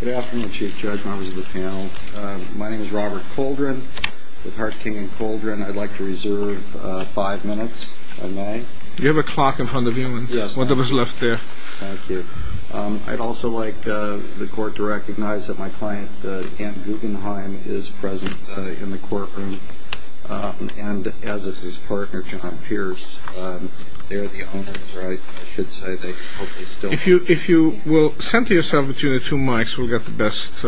Good afternoon, Chief Judge, members of the panel. My name is Robert Koldrin with Hart, King & Koldrin. I'd like to reserve five minutes of mine. You have a clock in front of you and one that was left there. Thank you. I'd also like the court to recognize that my client, Ant Guggenheim, is present in the courtroom. And as is his partner, John Pierce. They're the owners, or I should say they hope they still are. If you will center yourself between the two mics, we'll get the best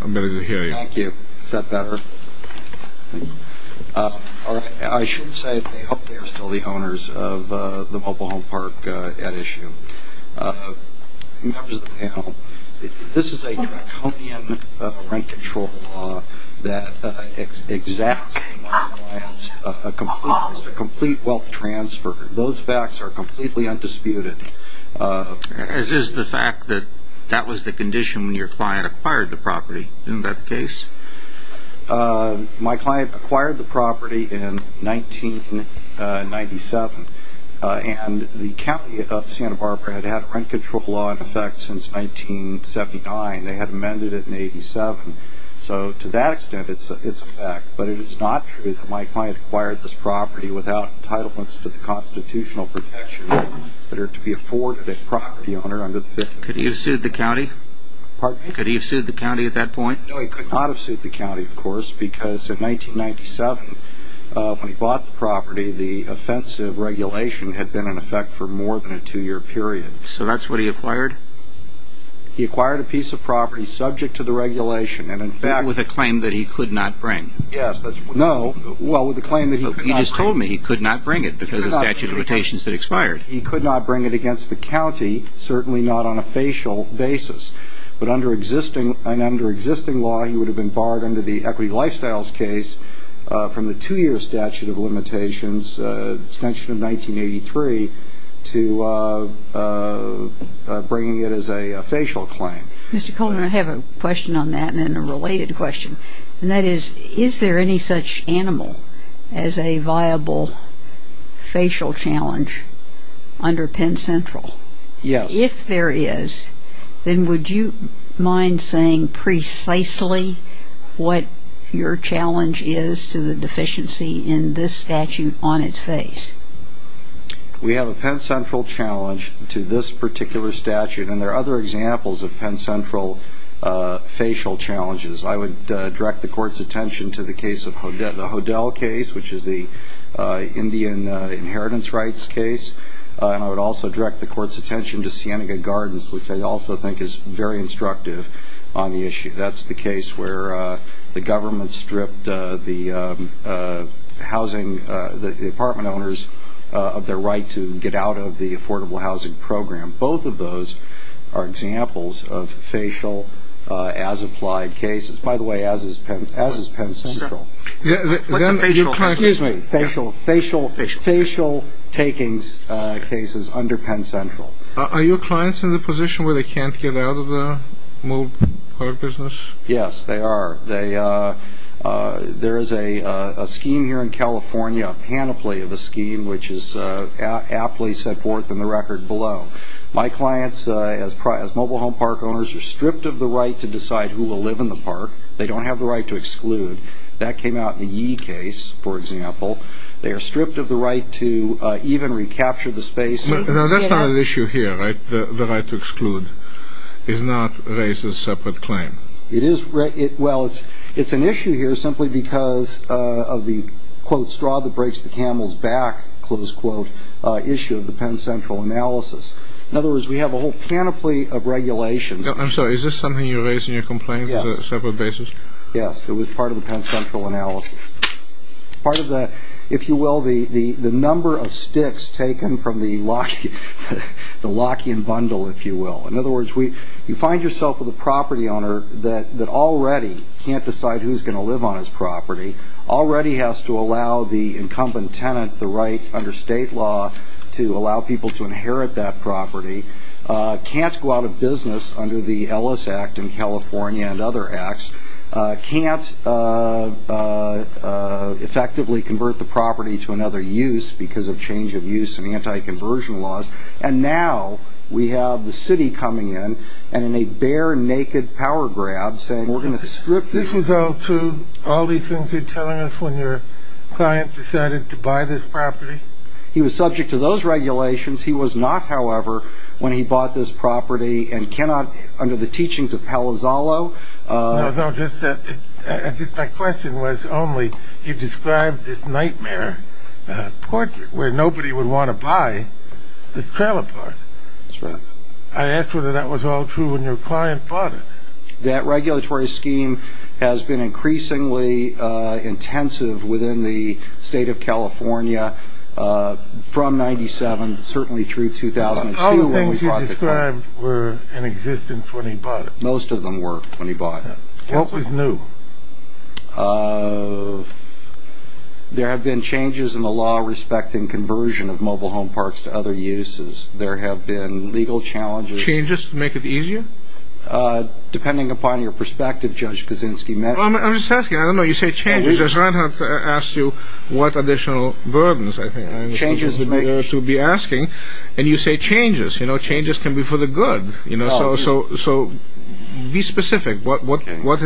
ability to hear you. Thank you. Is that better? I should say they hope they are still the owners of the Mobile Home Park at issue. Members of the panel, this is a draconian rent control law that exacts a complete wealth transfer. Those facts are completely undisputed. As is the fact that that was the condition when your client acquired the property. Isn't that the case? My client acquired the property in 1997. And the county of Santa Barbara had had a rent control law in effect since 1979. They had amended it in 87. So to that extent, it's a fact. But it is not true that my client acquired this property without entitlements to the constitutional protections that are to be afforded a property owner under the Fifth Amendment. Could he have sued the county? Pardon me? Could he have sued the county at that point? No, he could not have sued the county, of course, because in 1997, when he bought the property, the offensive regulation had been in effect for more than a two-year period. So that's what he acquired? He acquired a piece of property subject to the regulation. With a claim that he could not bring? Yes. No. Well, with a claim that he could not bring. He just told me he could not bring it because the statute of limitations had expired. He could not bring it against the county, certainly not on a facial basis. But under existing law, he would have been barred under the equity lifestyles case from the two-year statute of limitations, extension of 1983, to bringing it as a facial claim. Mr. Coleman, I have a question on that and then a related question. And that is, is there any such animal as a viable facial challenge under Penn Central? Yes. If there is, then would you mind saying precisely what your challenge is to the deficiency in this statute on its face? We have a Penn Central challenge to this particular statute, and there are other examples of Penn Central facial challenges. I would direct the Court's attention to the case of the Hodel case, which is the Indian inheritance rights case. And I would also direct the Court's attention to Sienega Gardens, which I also think is very instructive on the issue. That's the case where the government stripped the housing, the apartment owners, of their right to get out of the affordable housing program. Both of those are examples of facial as-applied cases. By the way, as is Penn Central. Excuse me. Facial takings cases under Penn Central. Are your clients in the position where they can't get out of the mobile business? Yes, they are. There is a scheme here in California, a panoply of a scheme, which is aptly set forth in the record below. My clients, as mobile home park owners, are stripped of the right to decide who will live in the park. They don't have the right to exclude. That came out in the Yee case, for example. They are stripped of the right to even recapture the space. Now, that's not an issue here, right? The right to exclude is not raised as a separate claim. Well, it's an issue here simply because of the, quote, straw that breaks the camel's back, close quote, issue of the Penn Central analysis. In other words, we have a whole panoply of regulations. I'm sorry. Is this something you raised in your complaint as a separate basis? Yes. It was part of the Penn Central analysis. Part of the, if you will, the number of sticks taken from the Lockian bundle, if you will. In other words, you find yourself with a property owner that already can't decide who's going to live on his property, already has to allow the incumbent tenant the right under state law to allow people to inherit that property, can't go out of business under the Ellis Act in California and other acts, can't effectively convert the property to another use because of change of use and anti-conversion laws, and now we have the city coming in and in a bare naked power grab saying we're going to strip this. This was all true, all these things you're telling us when your client decided to buy this property? He was subject to those regulations. He was not, however, when he bought this property and cannot, under the teachings of Palazzolo. My question was only you described this nightmare portrait where nobody would want to buy this trailer park. That's right. I asked whether that was all true when your client bought it. That regulatory scheme has been increasingly intensive within the state of California from 97, certainly through 2002. All the things you described were in existence when he bought it. Most of them were when he bought it. What was new? There have been changes in the law respecting conversion of mobile home parks to other uses. There have been legal challenges. Changes to make it easier? Depending upon your perspective, Judge Kaczynski. I'm just asking. I don't know. You say changes. I don't have to ask you what additional burdens I think I'm supposed to be asking, and you say changes. Changes can be for the good. So be specific. What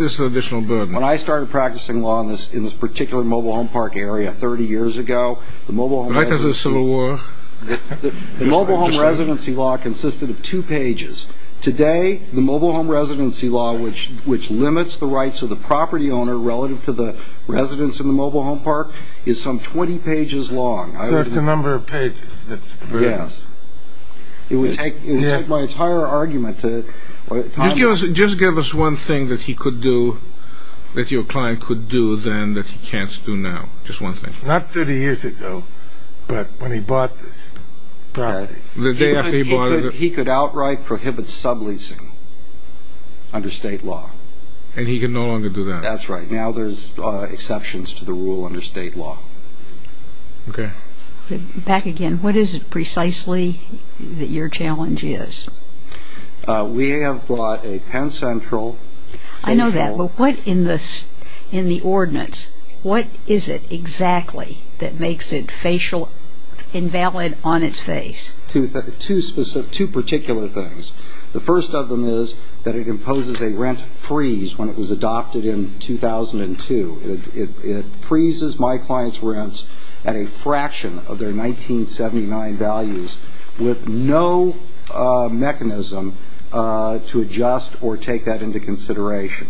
is the additional burden? When I started practicing law in this particular mobile home park area 30 years ago, the mobile home residency law consisted of two pages. Today, the mobile home residency law, which limits the rights of the property owner relative to the residents in the mobile home park, is some 20 pages long. So it's a number of pages. Yes. It would take my entire argument to – Just give us one thing that he could do, that your client could do then that he can't do now. Just one thing. Not 30 years ago, but when he bought this property. The day after he bought it. He could outright prohibit subleasing under state law. And he can no longer do that? That's right. Now there's exceptions to the rule under state law. Okay. Back again. What is it precisely that your challenge is? We have brought a Penn Central – I know that. But what in the ordinance, what is it exactly that makes it invalid on its face? Two particular things. The first of them is that it imposes a rent freeze when it was adopted in 2002. It freezes my client's rents at a fraction of their 1979 values with no mechanism to adjust or take that into consideration.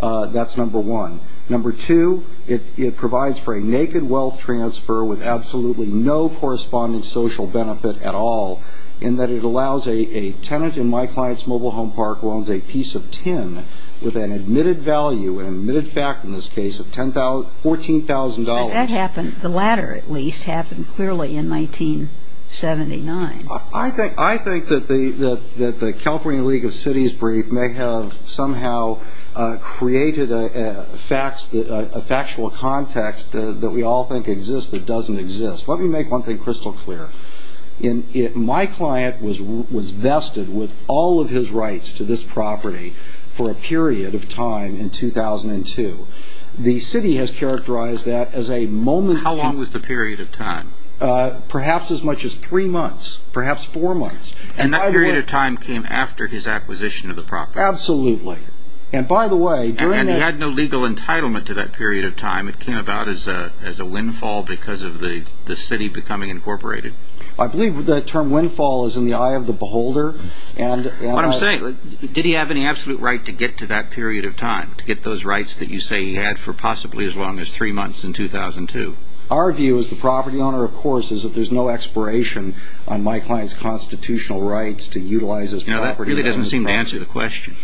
That's number one. Number two, it provides for a naked wealth transfer with absolutely no corresponding social benefit at all, in that it allows a tenant in my client's mobile home park who owns a piece of tin with an admitted value, an admitted fact in this case, of $14,000. That happened, the latter at least, happened clearly in 1979. I think that the California League of Cities brief may have somehow created a factual context that we all think exists that doesn't exist. Let me make one thing crystal clear. My client was vested with all of his rights to this property for a period of time in 2002. The city has characterized that as a moment – How long was the period of time? Perhaps as much as three months, perhaps four months. And that period of time came after his acquisition of the property? Absolutely. And by the way, during that – And he had no legal entitlement to that period of time. It came about as a windfall because of the city becoming incorporated. I believe the term windfall is in the eye of the beholder. What I'm saying, did he have any absolute right to get to that period of time, to get those rights that you say he had for possibly as long as three months in 2002? Our view as the property owner, of course, is that there's no expiration on my client's constitutional rights to utilize his property. That really doesn't seem to answer the question.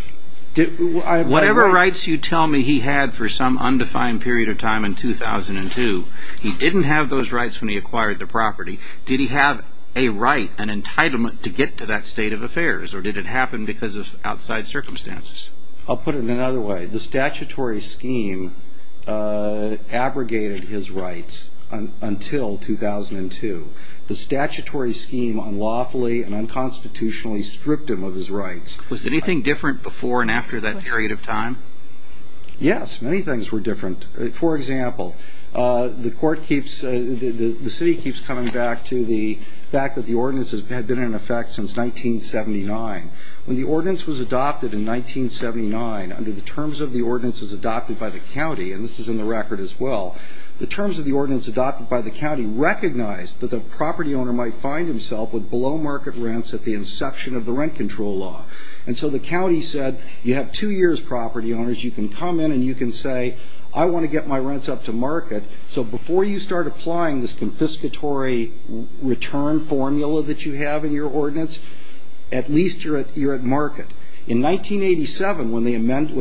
Whatever rights you tell me he had for some undefined period of time in 2002, he didn't have those rights when he acquired the property. Did he have a right, an entitlement to get to that state of affairs, or did it happen because of outside circumstances? I'll put it another way. The statutory scheme abrogated his rights until 2002. The statutory scheme unlawfully and unconstitutionally stripped him of his rights. Was anything different before and after that period of time? Yes, many things were different. For example, the city keeps coming back to the fact that the ordinance had been in effect since 1979. When the ordinance was adopted in 1979 under the terms of the ordinances adopted by the county, and this is in the record as well, the terms of the ordinance adopted by the county recognized that the property owner might find himself with below market rents at the inception of the rent control law. And so the county said, you have two years, property owners. You can come in and you can say, I want to get my rents up to market. So before you start applying this confiscatory return formula that you have in your ordinance, at least you're at market. In 1987, when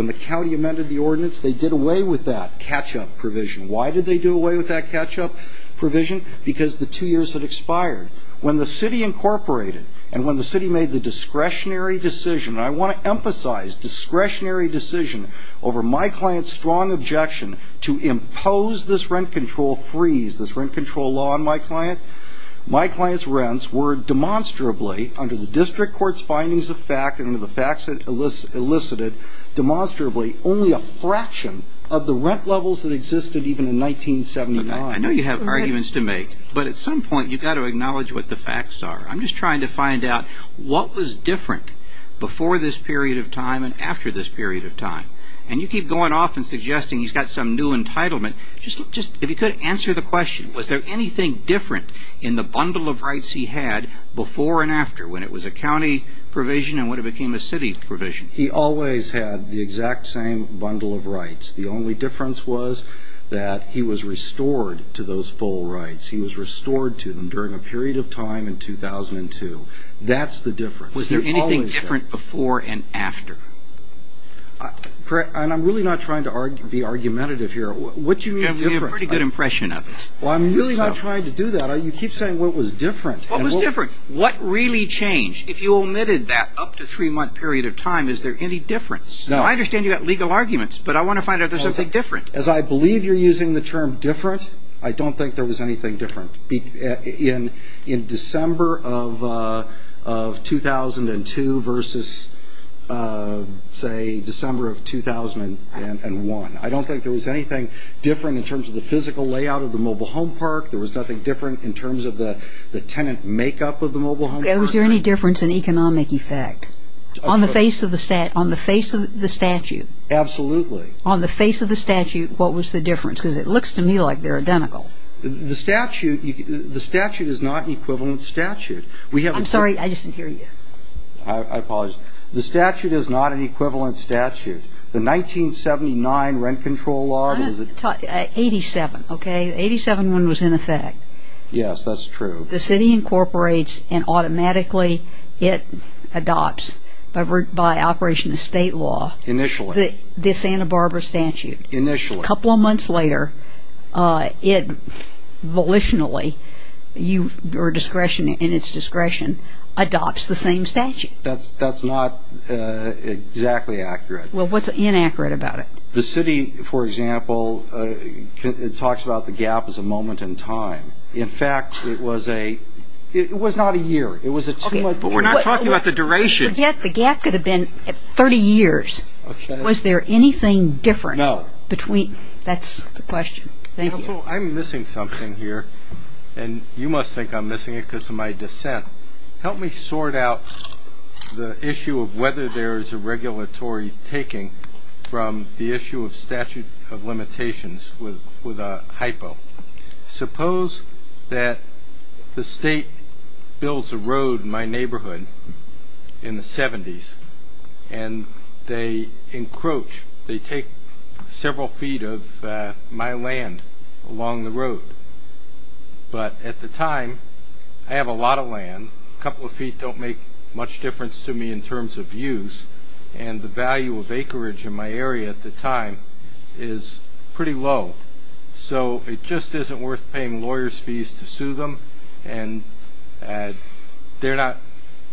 the county amended the ordinance, they did away with that catch-up provision. Why did they do away with that catch-up provision? Because the two years had expired. When the city incorporated and when the city made the discretionary decision, and I want to emphasize discretionary decision, over my client's strong objection to impose this rent control freeze, this rent control law on my client, my client's rents were demonstrably, under the district court's findings of fact and under the facts it elicited, demonstrably only a fraction of the rent levels that existed even in 1979. I know you have arguments to make. But at some point you've got to acknowledge what the facts are. I'm just trying to find out what was different before this period of time and after this period of time. And you keep going off and suggesting he's got some new entitlement. If you could answer the question, was there anything different in the bundle of rights he had before and after, when it was a county provision and when it became a city provision? He always had the exact same bundle of rights. The only difference was that he was restored to those full rights. He was restored to them during a period of time in 2002. That's the difference. Was there anything different before and after? And I'm really not trying to be argumentative here. What do you mean different? You have a pretty good impression of it. Well, I'm really not trying to do that. You keep saying what was different. What was different? What really changed? If you omitted that up to three-month period of time, is there any difference? No. I understand you've got legal arguments, but I want to find out if there's something different. As I believe you're using the term different, I don't think there was anything different. In December of 2002 versus, say, December of 2001, I don't think there was anything different in terms of the physical layout of the mobile home park. There was nothing different in terms of the tenant makeup of the mobile home park. Was there any difference in economic effect? On the face of the statute. Absolutely. On the face of the statute, what was the difference? Because it looks to me like they're identical. The statute is not an equivalent statute. I'm sorry. I just didn't hear you. I apologize. The statute is not an equivalent statute. The 1979 rent control law. 87, okay? The 87 one was in effect. Yes, that's true. The city incorporates and automatically it adopts by operation of state law. Initially. The Santa Barbara statute. Initially. A couple of months later, it volitionally, your discretion and its discretion, adopts the same statute. That's not exactly accurate. Well, what's inaccurate about it? The city, for example, talks about the gap as a moment in time. In fact, it was a, it was not a year. It was a. But we're not talking about the duration. The gap could have been 30 years. Okay. Was there anything different? No. Between, that's the question. Thank you. Counsel, I'm missing something here. And you must think I'm missing it because of my dissent. Help me sort out the issue of whether there is a regulatory taking from the issue of statute of limitations with a hypo. Suppose that the state builds a road in my neighborhood in the 70s. And they encroach, they take several feet of my land along the road. But at the time, I have a lot of land. A couple of feet don't make much difference to me in terms of use. And the value of acreage in my area at the time is pretty low. So it just isn't worth paying lawyers' fees to sue them. And they're not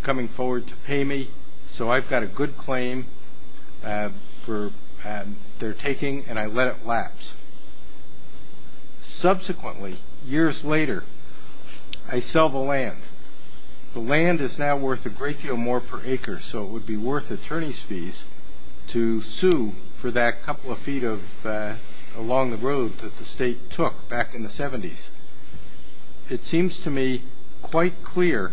coming forward to pay me. So I've got a good claim for their taking, and I let it lapse. Subsequently, years later, I sell the land. The land is now worth a great deal more per acre. So it would be worth attorneys' fees to sue for that couple of feet along the road that the state took back in the 70s. It seems to me quite clear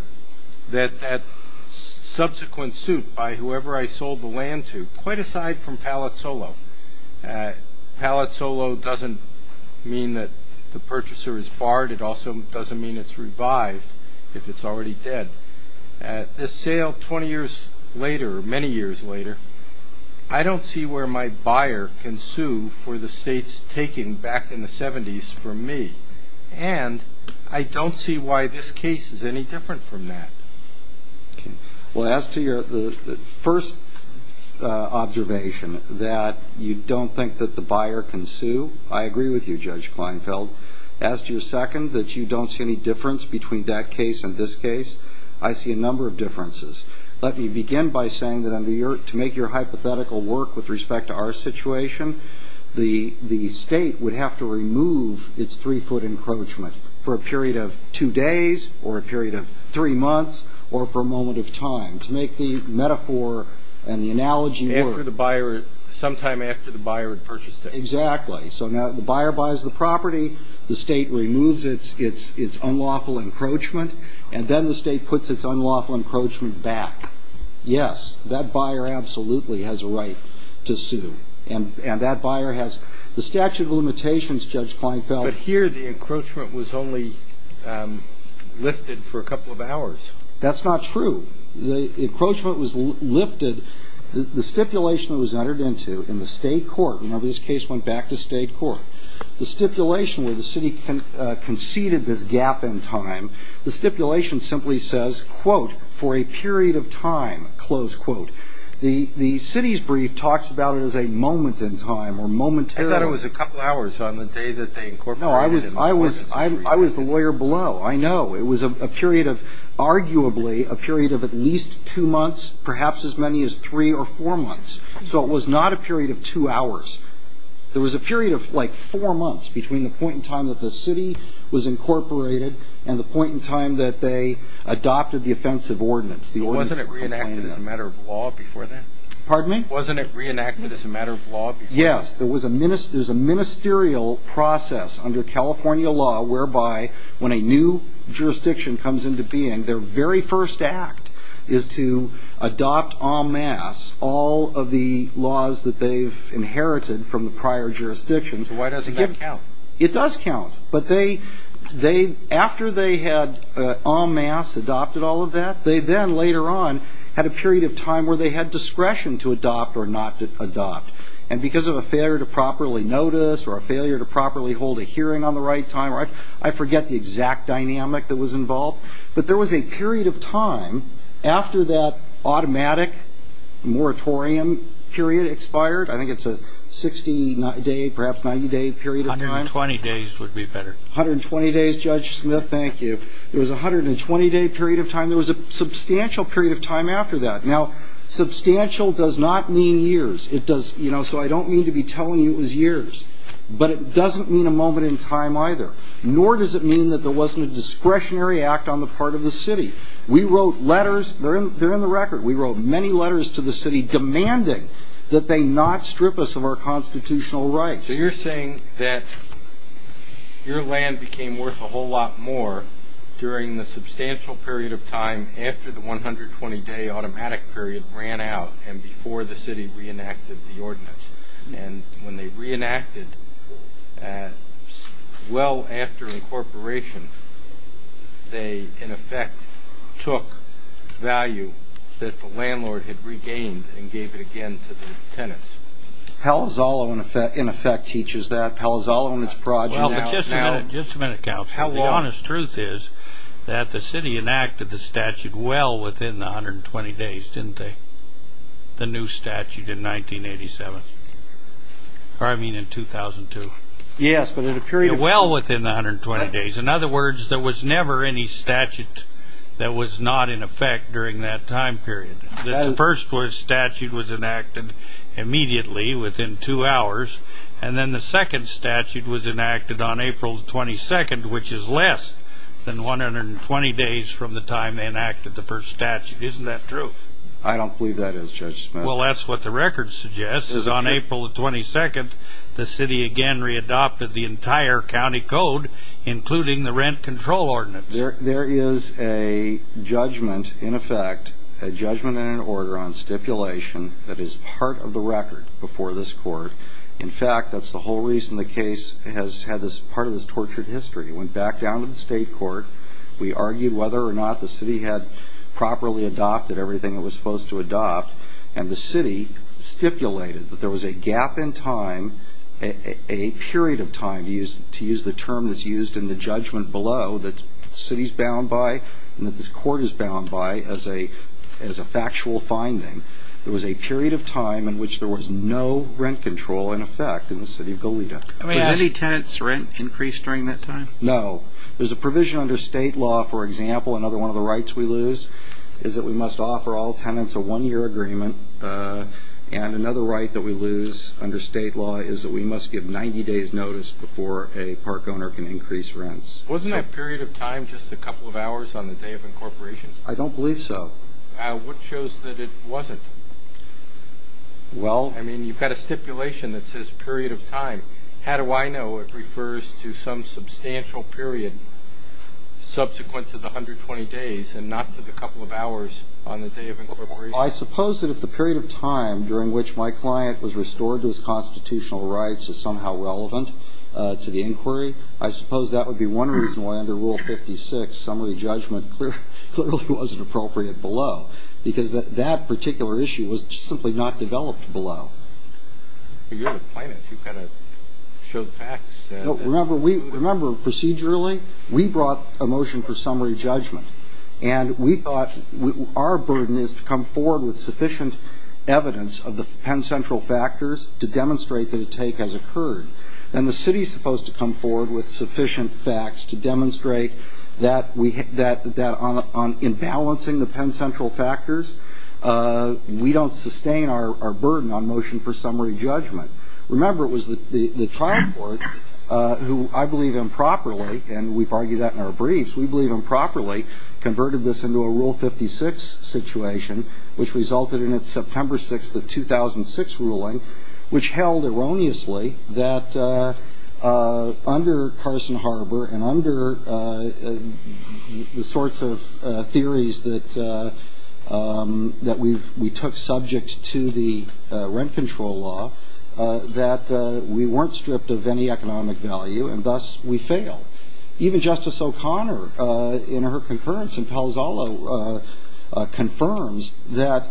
that that subsequent suit by whoever I sold the land to, quite aside from Pallett-Solo, Pallett-Solo doesn't mean that the purchaser is barred. It also doesn't mean it's revived if it's already dead. So this sale 20 years later, or many years later, I don't see where my buyer can sue for the states taking back in the 70s from me. And I don't see why this case is any different from that. Well, as to your first observation, that you don't think that the buyer can sue, I agree with you, Judge Kleinfeld. As to your second, that you don't see any difference between that case and this case, I see a number of differences. Let me begin by saying that to make your hypothetical work with respect to our situation, the state would have to remove its 3-foot encroachment for a period of 2 days or a period of 3 months or for a moment of time. To make the metaphor and the analogy work. Sometime after the buyer had purchased it. Exactly. So now the buyer buys the property, the state removes its unlawful encroachment, and then the state puts its unlawful encroachment back. Yes, that buyer absolutely has a right to sue. And that buyer has the statute of limitations, Judge Kleinfeld. But here the encroachment was only lifted for a couple of hours. That's not true. The encroachment was lifted. The stipulation that was entered into in the state court, remember this case went back to state court, the stipulation where the city conceded this gap in time, the stipulation simply says, quote, for a period of time, close quote. The city's brief talks about it as a moment in time or momentarily. I thought it was a couple hours on the day that they incorporated it. No, I was the lawyer below. I know. It was a period of arguably a period of at least two months, perhaps as many as three or four months. So it was not a period of two hours. There was a period of like four months between the point in time that the city was incorporated and the point in time that they adopted the offensive ordinance. Wasn't it reenacted as a matter of law before that? Pardon me? Wasn't it reenacted as a matter of law before that? Yes. There was a ministerial process under California law whereby when a new jurisdiction comes into being, their very first act is to adopt en masse all of the laws that they've inherited from the prior jurisdictions. So why doesn't that count? It does count. But after they had en masse adopted all of that, they then later on had a period of time where they had discretion to adopt or not adopt. And because of a failure to properly notice or a failure to properly hold a hearing on the right time, I forget the exact dynamic that was involved. But there was a period of time after that automatic moratorium period expired, I think it's a 60-day, perhaps 90-day period of time. 120 days would be better. 120 days, Judge Smith, thank you. There was a 120-day period of time. There was a substantial period of time after that. Now, substantial does not mean years. So I don't mean to be telling you it was years, but it doesn't mean a moment in time either, nor does it mean that there wasn't a discretionary act on the part of the city. We wrote letters. They're in the record. We wrote many letters to the city demanding that they not strip us of our constitutional rights. So you're saying that your land became worth a whole lot more during the substantial period of time after the 120-day automatic period ran out and before the city reenacted the ordinance. And when they reenacted well after incorporation, they, in effect, took value that the landlord had regained and gave it again to the tenants. Palazzolo, in effect, teaches that. Palazzolo and his project now. Well, but just a minute, just a minute, Counselor. The honest truth is that the city enacted the statute well within the 120 days, didn't they? The new statute in 1987. Or I mean in 2002. Yes, but in a period of time. Well within the 120 days. In other words, there was never any statute that was not in effect during that time period. The first statute was enacted immediately within two hours, and then the second statute was enacted on April 22nd, which is less than 120 days from the time they enacted the first statute. Isn't that true? I don't believe that is, Judge Smith. Well, that's what the record suggests is on April 22nd, the city again readopted the entire county code, including the rent control ordinance. There is a judgment, in effect, a judgment and an order on stipulation that is part of the record before this court. In fact, that's the whole reason the case has had part of this tortured history. It went back down to the state court. We argued whether or not the city had properly adopted everything it was supposed to adopt, and the city stipulated that there was a gap in time, a period of time, to use the term that's used in the judgment below, that the city's bound by and that this court is bound by as a factual finding. There was a period of time in which there was no rent control in effect in the city of Goleta. Was any tenant's rent increased during that time? No. There's a provision under state law, for example, another one of the rights we lose, is that we must offer all tenants a one-year agreement, and another right that we lose under state law is that we must give 90 days notice before a park owner can increase rents. Wasn't that period of time just a couple of hours on the day of incorporation? I don't believe so. What shows that it wasn't? Well. I mean, you've got a stipulation that says period of time. How do I know it refers to some substantial period subsequent to the 120 days and not to the couple of hours on the day of incorporation? I suppose that if the period of time during which my client was restored to his constitutional rights is somehow relevant to the inquiry, I suppose that would be one reason why under Rule 56 summary judgment clearly wasn't appropriate below, because that particular issue was simply not developed below. You're the plaintiff. You've got to show the facts. Remember, procedurally, we brought a motion for summary judgment, and we thought our burden is to come forward with sufficient evidence of the Penn Central factors to demonstrate that a take has occurred. And the city is supposed to come forward with sufficient facts to demonstrate that in balancing the Penn Central factors, we don't sustain our burden on motion for summary judgment. Remember, it was the trial court who, I believe improperly, and we've argued that in our briefs, we believe improperly, converted this into a Rule 56 situation, which resulted in its September 6th of 2006 ruling, which held erroneously that under Carson Harbor and under the sorts of theories that we took subject to the rent control law, that we weren't stripped of any economic value, and thus we failed. Even Justice O'Connor, in her concurrence in Palazzolo, confirms that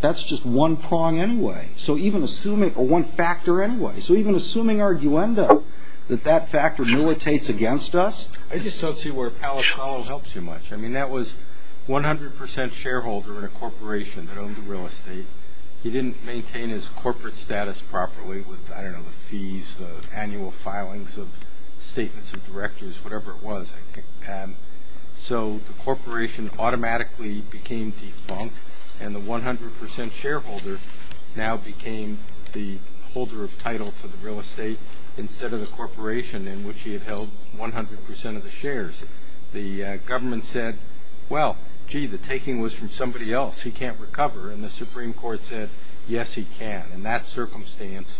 that's just one prong anyway, or one factor anyway. So even assuming arguenda that that factor militates against us. I just don't see where Palazzolo helps you much. I mean, that was 100% shareholder in a corporation that owned real estate. He didn't maintain his corporate status properly with, I don't know, the fees, the annual filings of statements of directors, whatever it was. So the corporation automatically became defunct, and the 100% shareholder now became the holder of title to the real estate instead of the corporation in which he had held 100% of the shares. The government said, well, gee, the taking was from somebody else. He can't recover. And the Supreme Court said, yes, he can. In that circumstance,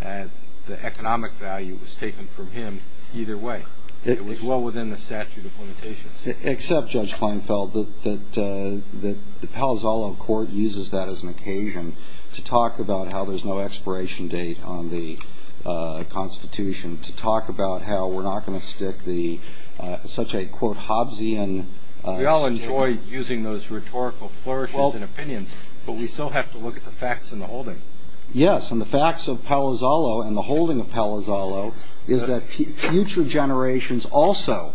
the economic value was taken from him either way. It was well within the statute of limitations. Except, Judge Kleinfeld, that the Palazzolo court uses that as an occasion to talk about how there's no expiration date on the Constitution, to talk about how we're not going to stick such a, quote, Hobbesian statement. We all enjoy using those rhetorical flourishes and opinions, but we still have to look at the facts in the holding. Yes, and the facts of Palazzolo and the holding of Palazzolo is that future generations also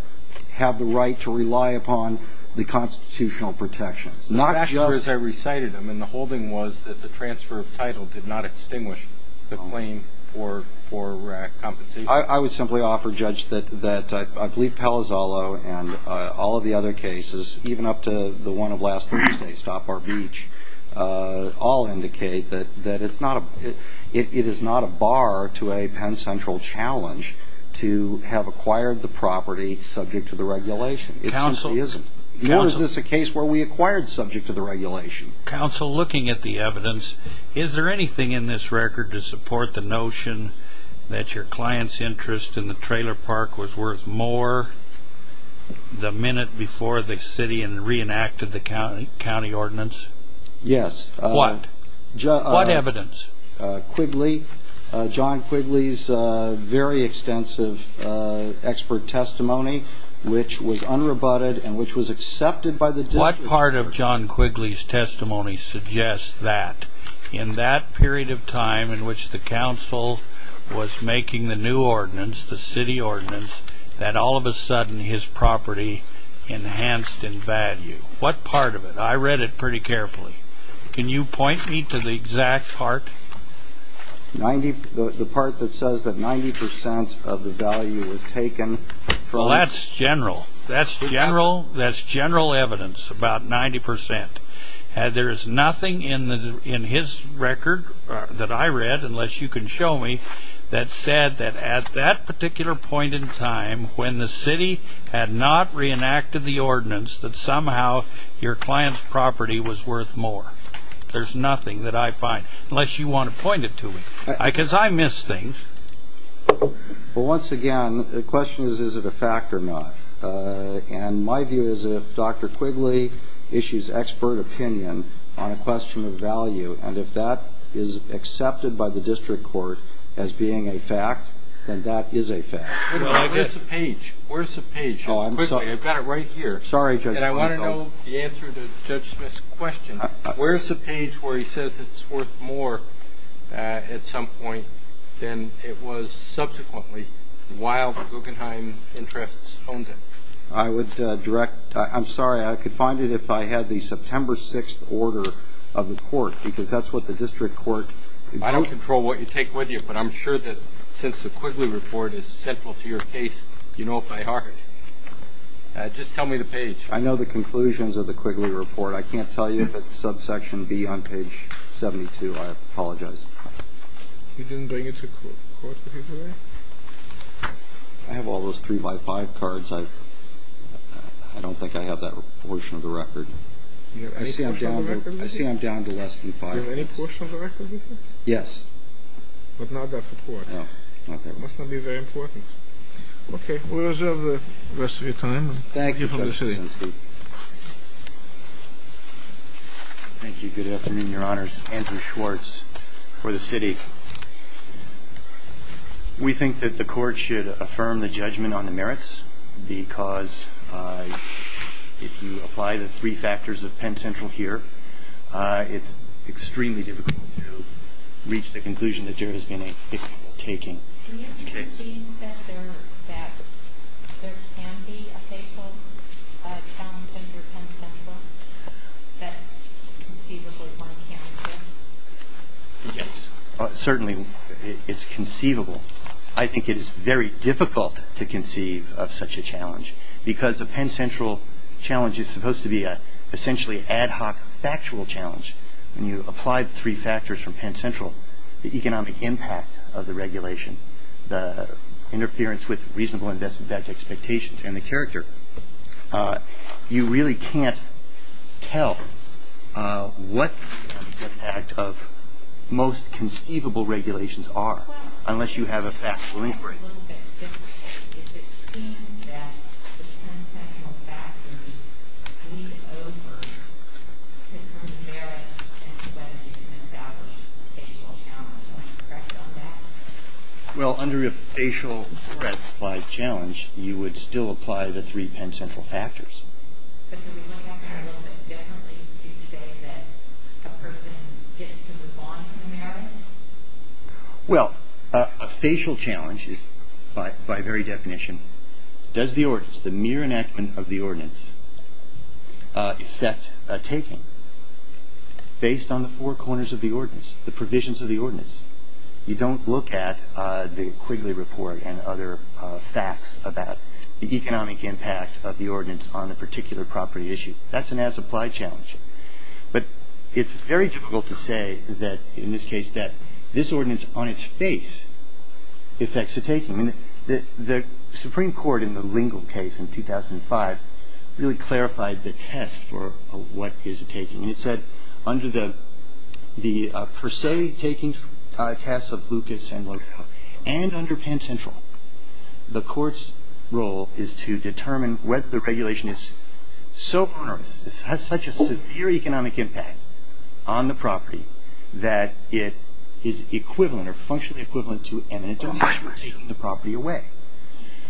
have the right to rely upon the constitutional protections. The fact is I recited them, and the holding was that the transfer of title did not extinguish the claim for compensation. I would simply offer, Judge, that I believe Palazzolo and all of the other cases, even up to the one of last Thursday, Stop Our Beach, all indicate that it is not a bar to a Penn Central challenge to have acquired the property subject to the regulation. It simply isn't. Nor is this a case where we acquired subject to the regulation. Counsel, looking at the evidence, is there anything in this record to support the notion that your client's interest in the trailer park was worth more than the minute before the city reenacted the county ordinance? Yes. What? What evidence? Quigley, John Quigley's very extensive expert testimony, which was unrebutted and which was accepted by the district. What part of John Quigley's testimony suggests that, in that period of time in which the council was making the new ordinance, the city ordinance, that all of a sudden his property enhanced in value? What part of it? I read it pretty carefully. Can you point me to the exact part? The part that says that 90% of the value was taken from? Well, that's general. That's general evidence, about 90%. There is nothing in his record that I read, unless you can show me, that said that at that particular point in time, when the city had not reenacted the ordinance, that somehow your client's property was worth more. There's nothing that I find, unless you want to point it to me. Because I miss things. Well, once again, the question is, is it a fact or not? And my view is if Dr. Quigley issues expert opinion on a question of value, and if that is accepted by the district court as being a fact, then that is a fact. Where's the page? Where's the page? Quickly. I've got it right here. Sorry, Judge Quigley. And I want to know the answer to Judge Smith's question. Where's the page where he says it's worth more at some point than it was subsequently, while the Guggenheim interests owned it? I would direct. I'm sorry. I could find it if I had the September 6th order of the court, because that's what the district court. I don't control what you take with you, but I'm sure that since the Quigley report is central to your case, you know it by heart. Just tell me the page. I know the conclusions of the Quigley report. I can't tell you if it's subsection B on page 72. I apologize. You didn't bring it to court with you today? I have all those 3x5 cards. I don't think I have that portion of the record. I see I'm down to less than 5 minutes. Do you have any portion of the record with you? Yes. But not that report. No. Okay. It must not be very important. Okay. We'll reserve the rest of your time. Thank you. Thank you. Good afternoon, Your Honors. Anthony Schwartz for the city. We think that the court should affirm the judgment on the merits because if you apply the three factors of Penn Central here, it's extremely difficult to reach the conclusion that there has been a taking. Do you believe that there can be a faithful challenge under Penn Central that conceivably one can't adjust? Yes. Certainly it's conceivable. I think it is very difficult to conceive of such a challenge because a Penn Central challenge is supposed to be an essentially ad hoc factual challenge. When you apply the three factors from Penn Central, the economic impact of the regulation, the interference with reasonable investment expectations, and the character, you really can't tell what the impact of most conceivable regulations are unless you have a factual inquiry. Well, it's a little bit difficult because it seems that the Penn Central factors lead over to the merits and to whether you can establish a faithful challenge. Do you want to correct me on that? Well, under a facial breastplate challenge, you would still apply the three Penn Central factors. But do we look at it a little bit differently to say that a person gets to move on to the merits? Well, a facial challenge is, by very definition, does the ordinance, the mere enactment of the ordinance, affect a taking based on the four corners of the ordinance, the provisions of the ordinance? You don't look at the Quigley Report and other facts about the economic impact of the ordinance on a particular property issue. That's an as-applied challenge. But it's very difficult to say that, in this case, that this ordinance on its face affects a taking. The Supreme Court in the Lingle case in 2005 really clarified the test for what is a taking. It said under the per se taking test of Lucas and Lodell and under Penn Central, the court's role is to determine whether the regulation is so onerous, has such a severe economic impact on the property, that it is equivalent or functionally equivalent to eminent damage for taking the property away.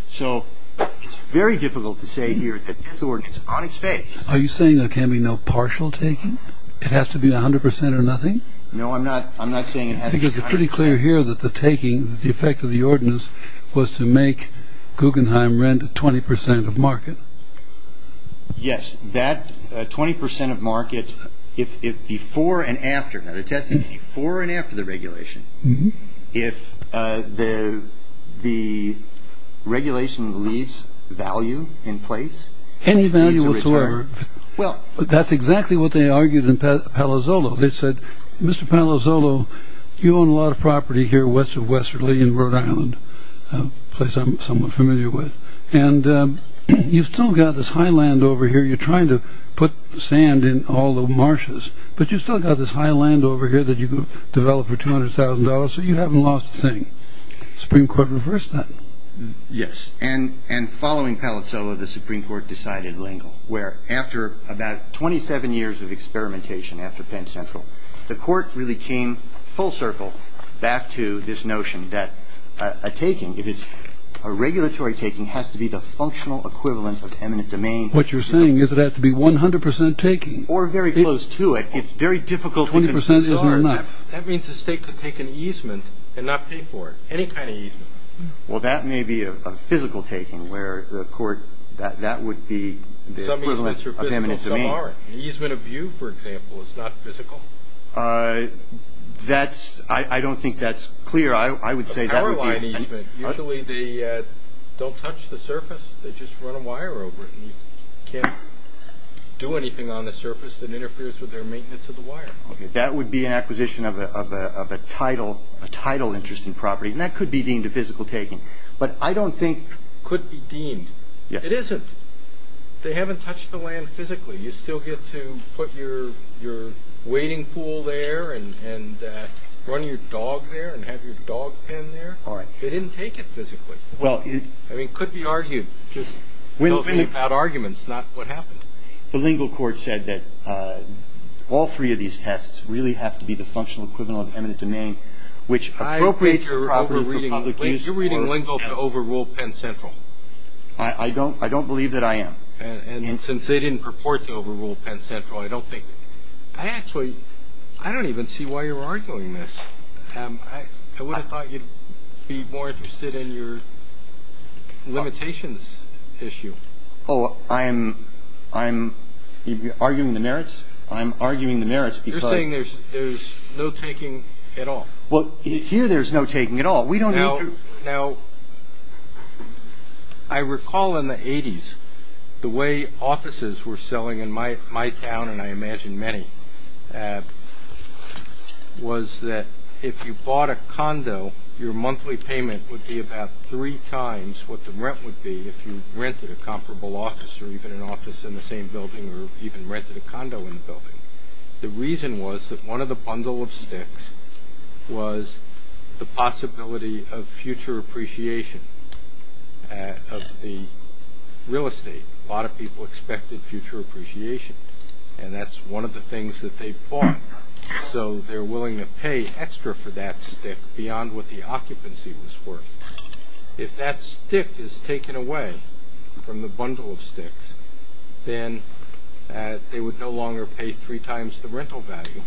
So it's very difficult to say here that this ordinance on its face… It has to be 100 percent or nothing? No, I'm not saying it has to be 100 percent. Because it's pretty clear here that the taking, the effect of the ordinance, was to make Guggenheim Rent 20 percent of market. Yes, that 20 percent of market, if before and after, now the test is before and after the regulation, if the regulation leaves value in place… Any value whatsoever? Well, that's exactly what they argued in Palazzolo. They said, Mr. Palazzolo, you own a lot of property here west of Westerly in Rhode Island, a place I'm somewhat familiar with, and you've still got this high land over here, you're trying to put sand in all the marshes, but you've still got this high land over here that you could develop for $200,000, so you haven't lost a thing. The Supreme Court reversed that. Yes, and following Palazzolo, the Supreme Court decided Lingle, where after about 27 years of experimentation after Penn Central, the court really came full circle back to this notion that a taking, if it's a regulatory taking, has to be the functional equivalent of eminent domain. What you're saying is it has to be 100 percent taking. Or very close to it. It's very difficult to discern. That means the state could take an easement and not pay for it, any kind of easement. Well, that may be a physical taking where the court, that would be the equivalent of eminent domain. Some easements are physical, some aren't. An easement of view, for example, is not physical. I don't think that's clear. A power line easement, usually they don't touch the surface, they just run a wire over it, and you can't do anything on the surface that interferes with their maintenance of the wire. That would be an acquisition of a title interest in property, and that could be deemed a physical taking. But I don't think. Could be deemed. Yes. It isn't. They haven't touched the land physically. You still get to put your wading pool there and run your dog there and have your dog pen there. All right. They didn't take it physically. Well. I mean, it could be argued. Just without arguments, not what happened. The lingual court said that all three of these tests really have to be the functional equivalent of eminent domain, which appropriates the property for public use. You're reading lingual to overrule Penn Central. I don't believe that I am. And since they didn't purport to overrule Penn Central, I don't think. I actually, I don't even see why you're arguing this. I would have thought you'd be more interested in your limitations issue. Oh, I'm arguing the merits? I'm arguing the merits because. I'm saying there's no taking at all. Well, here there's no taking at all. We don't need to. Now, I recall in the 80s the way offices were selling in my town, and I imagine many, was that if you bought a condo, your monthly payment would be about three times what the rent would be if you rented a comparable office or even an office in the same building or even rented a condo in the building. The reason was that one of the bundle of sticks was the possibility of future appreciation of the real estate. A lot of people expected future appreciation, and that's one of the things that they bought. So they're willing to pay extra for that stick beyond what the occupancy was worth. If that stick is taken away from the bundle of sticks, then they would no longer pay three times the rental value.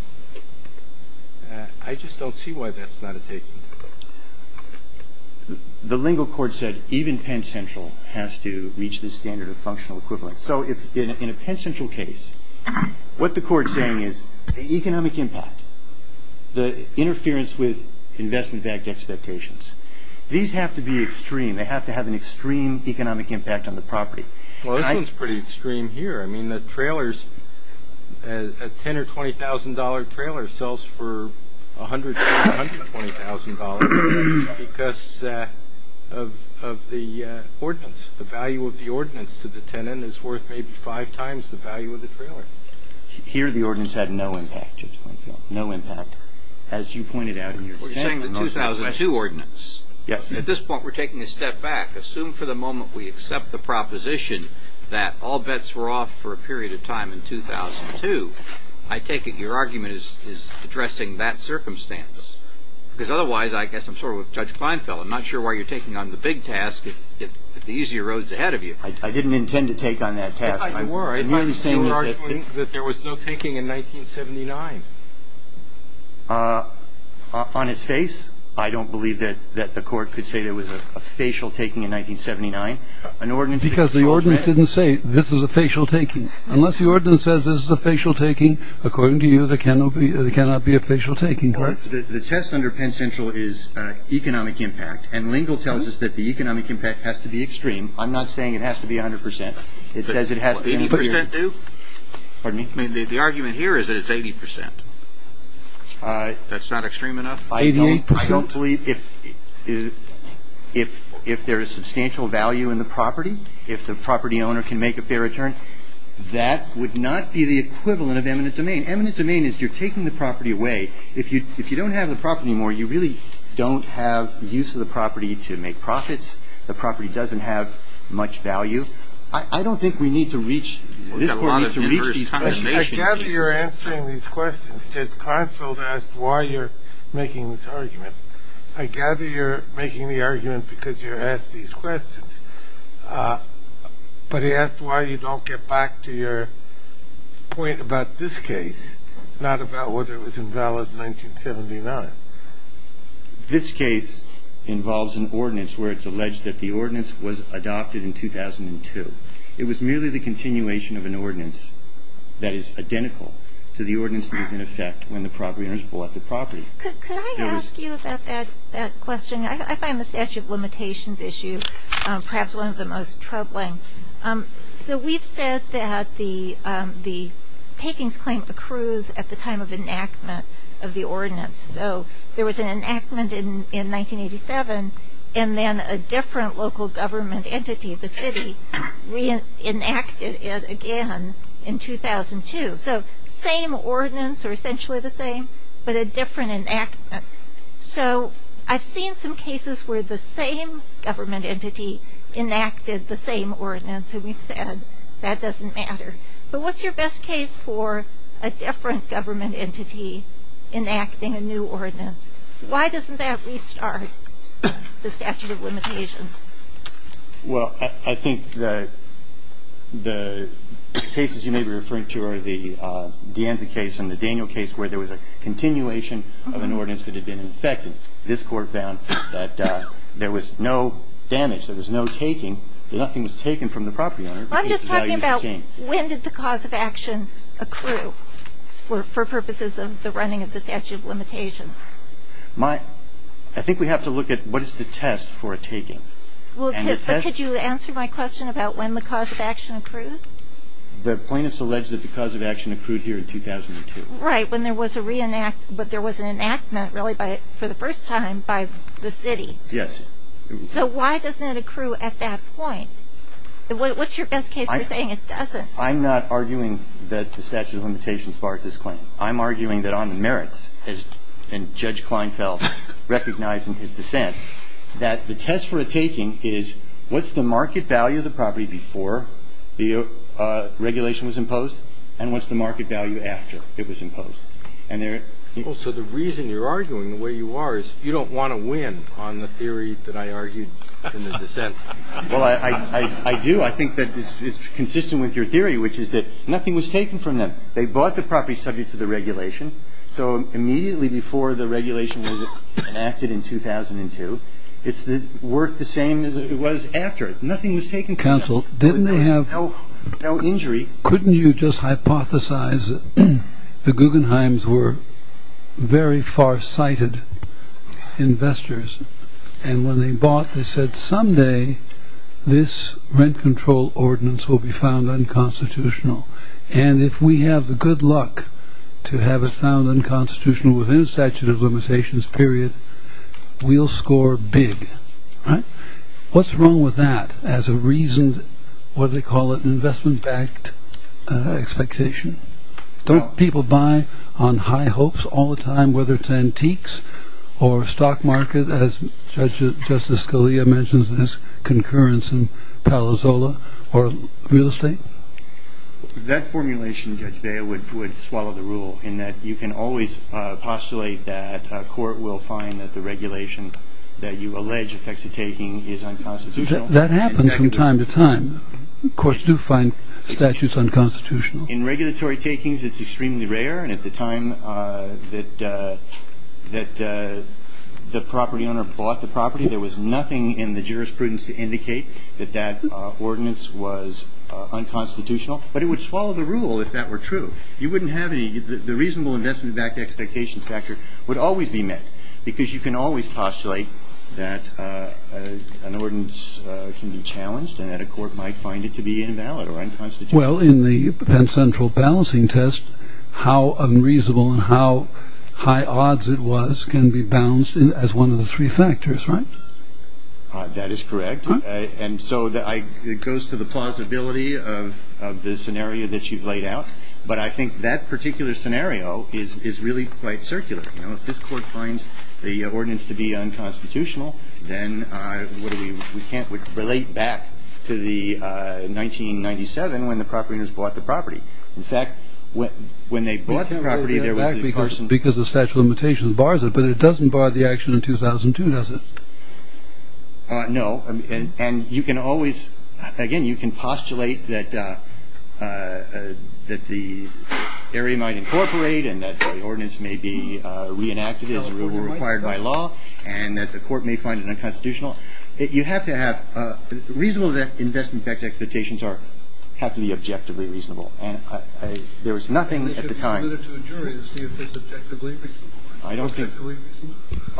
I just don't see why that's not a taking. The lingual court said even Penn Central has to reach the standard of functional equivalent. So in a Penn Central case, what the court's saying is the economic impact, the interference with investment-backed expectations, these have to be extreme. They have to have an extreme economic impact on the property. Well, this one's pretty extreme here. I mean, the trailers, a $10,000 or $20,000 trailer sells for $100,000 or $120,000 because of the ordinance. The value of the ordinance to the tenant is worth maybe five times the value of the trailer. Here, the ordinance had no impact, Judge Kleinfeld, no impact. As you pointed out in your statement, most of the questions— Well, you're saying the 2002 ordinance. Yes. At this point, we're taking a step back. Assume for the moment we accept the proposition that all bets were off for a period of time in 2002. I take it your argument is addressing that circumstance. Because otherwise, I guess I'm sort of with Judge Kleinfeld. I'm not sure why you're taking on the big task if the easier road's ahead of you. I didn't intend to take on that task. I'm merely saying that— You were arguing that there was no taking in 1979. On its face, I don't believe that the Court could say there was a facial taking in 1979. An ordinance— Because the ordinance didn't say this is a facial taking. Unless the ordinance says this is a facial taking, according to you, there cannot be a facial taking, correct? The test under Penn Central is economic impact, and Lingle tells us that the economic impact has to be extreme. I'm not saying it has to be 100 percent. It says it has to be— 80 percent do? Pardon me? The argument here is that it's 80 percent. That's not extreme enough? 88 percent? I don't believe if there is substantial value in the property, if the property owner can make a fair return, that would not be the equivalent of eminent domain. Eminent domain is you're taking the property away. If you don't have the property anymore, you really don't have use of the property to make profits. The property doesn't have much value. I don't think we need to reach— I gather you're answering these questions. Ted Kleinfeld asked why you're making this argument. I gather you're making the argument because you're asked these questions. But he asked why you don't get back to your point about this case, not about whether it was invalid in 1979. This case involves an ordinance where it's alleged that the ordinance was adopted in 2002. It was merely the continuation of an ordinance that is identical to the ordinance that was in effect when the property owner bought the property. Could I ask you about that question? I find the statute of limitations issue perhaps one of the most troubling. So we've said that the takings claim accrues at the time of enactment of the ordinance. So there was an enactment in 1987, and then a different local government entity, the city, reenacted it again in 2002. So same ordinance, or essentially the same, but a different enactment. So I've seen some cases where the same government entity enacted the same ordinance, and we've said that doesn't matter. But what's your best case for a different government entity enacting a new ordinance? Why doesn't that restart the statute of limitations? Well, I think the cases you may be referring to are the DeAnza case and the Daniel case, where there was a continuation of an ordinance that had been in effect. This court found that there was no damage, there was no taking, that nothing was taken from the property owner. I'm just talking about when did the cause of action accrue for purposes of the running of the statute of limitations? I think we have to look at what is the test for a taking. Well, could you answer my question about when the cause of action accrues? The plaintiffs allege that the cause of action accrued here in 2002. Right, when there was a reenactment, but there was an enactment really for the first time by the city. Yes. So why doesn't it accrue at that point? What's your best case for saying it doesn't? I'm not arguing that the statute of limitations bars this claim. I'm arguing that on the merits, as Judge Kleinfeld recognized in his dissent, that the test for a taking is what's the market value of the property before the regulation was imposed and what's the market value after it was imposed. So the reason you're arguing the way you are is you don't want to win on the theory that I argued in the dissent. Well, I do. I think that it's consistent with your theory, which is that nothing was taken from them. They bought the property subject to the regulation. So immediately before the regulation was enacted in 2002, it's worth the same as it was after it. Nothing was taken from them. Counsel, didn't they have... No injury. Couldn't you just hypothesize that the Guggenheims were very far-sighted investors and when they bought, they said someday this rent control ordinance will be found unconstitutional and if we have the good luck to have it found unconstitutional within a statute of limitations period, we'll score big, right? What's wrong with that as a reason, what they call it, investment-backed expectation? Don't people buy on high hopes all the time, whether it's antiques or stock market, as Justice Scalia mentions in his concurrence in Palo Zola, or real estate? That formulation, Judge Bale, would swallow the rule in that you can always postulate that a court will find that the regulation that you allege affects the taking is unconstitutional. That happens from time to time. Courts do find statutes unconstitutional. In regulatory takings, it's extremely rare. And at the time that the property owner bought the property, there was nothing in the jurisprudence to indicate that that ordinance was unconstitutional. But it would swallow the rule if that were true. You wouldn't have any... The reasonable investment-backed expectation factor would always be met because you can always postulate that an ordinance can be challenged and that a court might find it to be invalid or unconstitutional. Well, in the Penn Central balancing test, how unreasonable and how high odds it was can be balanced as one of the three factors, right? That is correct. And so it goes to the plausibility of the scenario that you've laid out. But I think that particular scenario is really quite circular. If this court finds the ordinance to be unconstitutional, then we can't relate back to the 1997 when the property owners bought the property. In fact, when they bought the property, there was a person... Because the statute of limitations bars it. But it doesn't bar the action in 2002, does it? No. And you can always, again, you can postulate that the area might incorporate and that the ordinance may be reenacted as required by law and that the court may find it unconstitutional. You have to have reasonable investment-backed expectations have to be objectively reasonable. And there was nothing at the time... If it's submitted to a jury to see if it's objectively reasonable.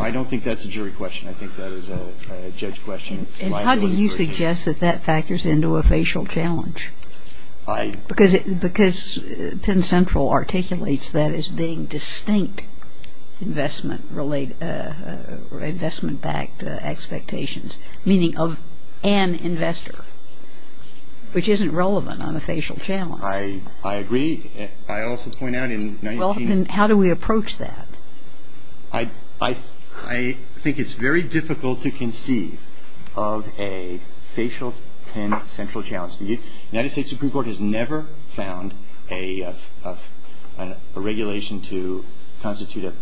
I don't think that's a jury question. I think that is a judge question. And how do you suggest that that factors into a facial challenge? Because Penn Central articulates that as being distinct investment-backed expectations, meaning of an investor, which isn't relevant on a facial challenge. I agree. I also point out in 19... Well, then how do we approach that? I think it's very difficult to conceive of a facial Penn Central challenge. The United States Supreme Court has never found a regulation to constitute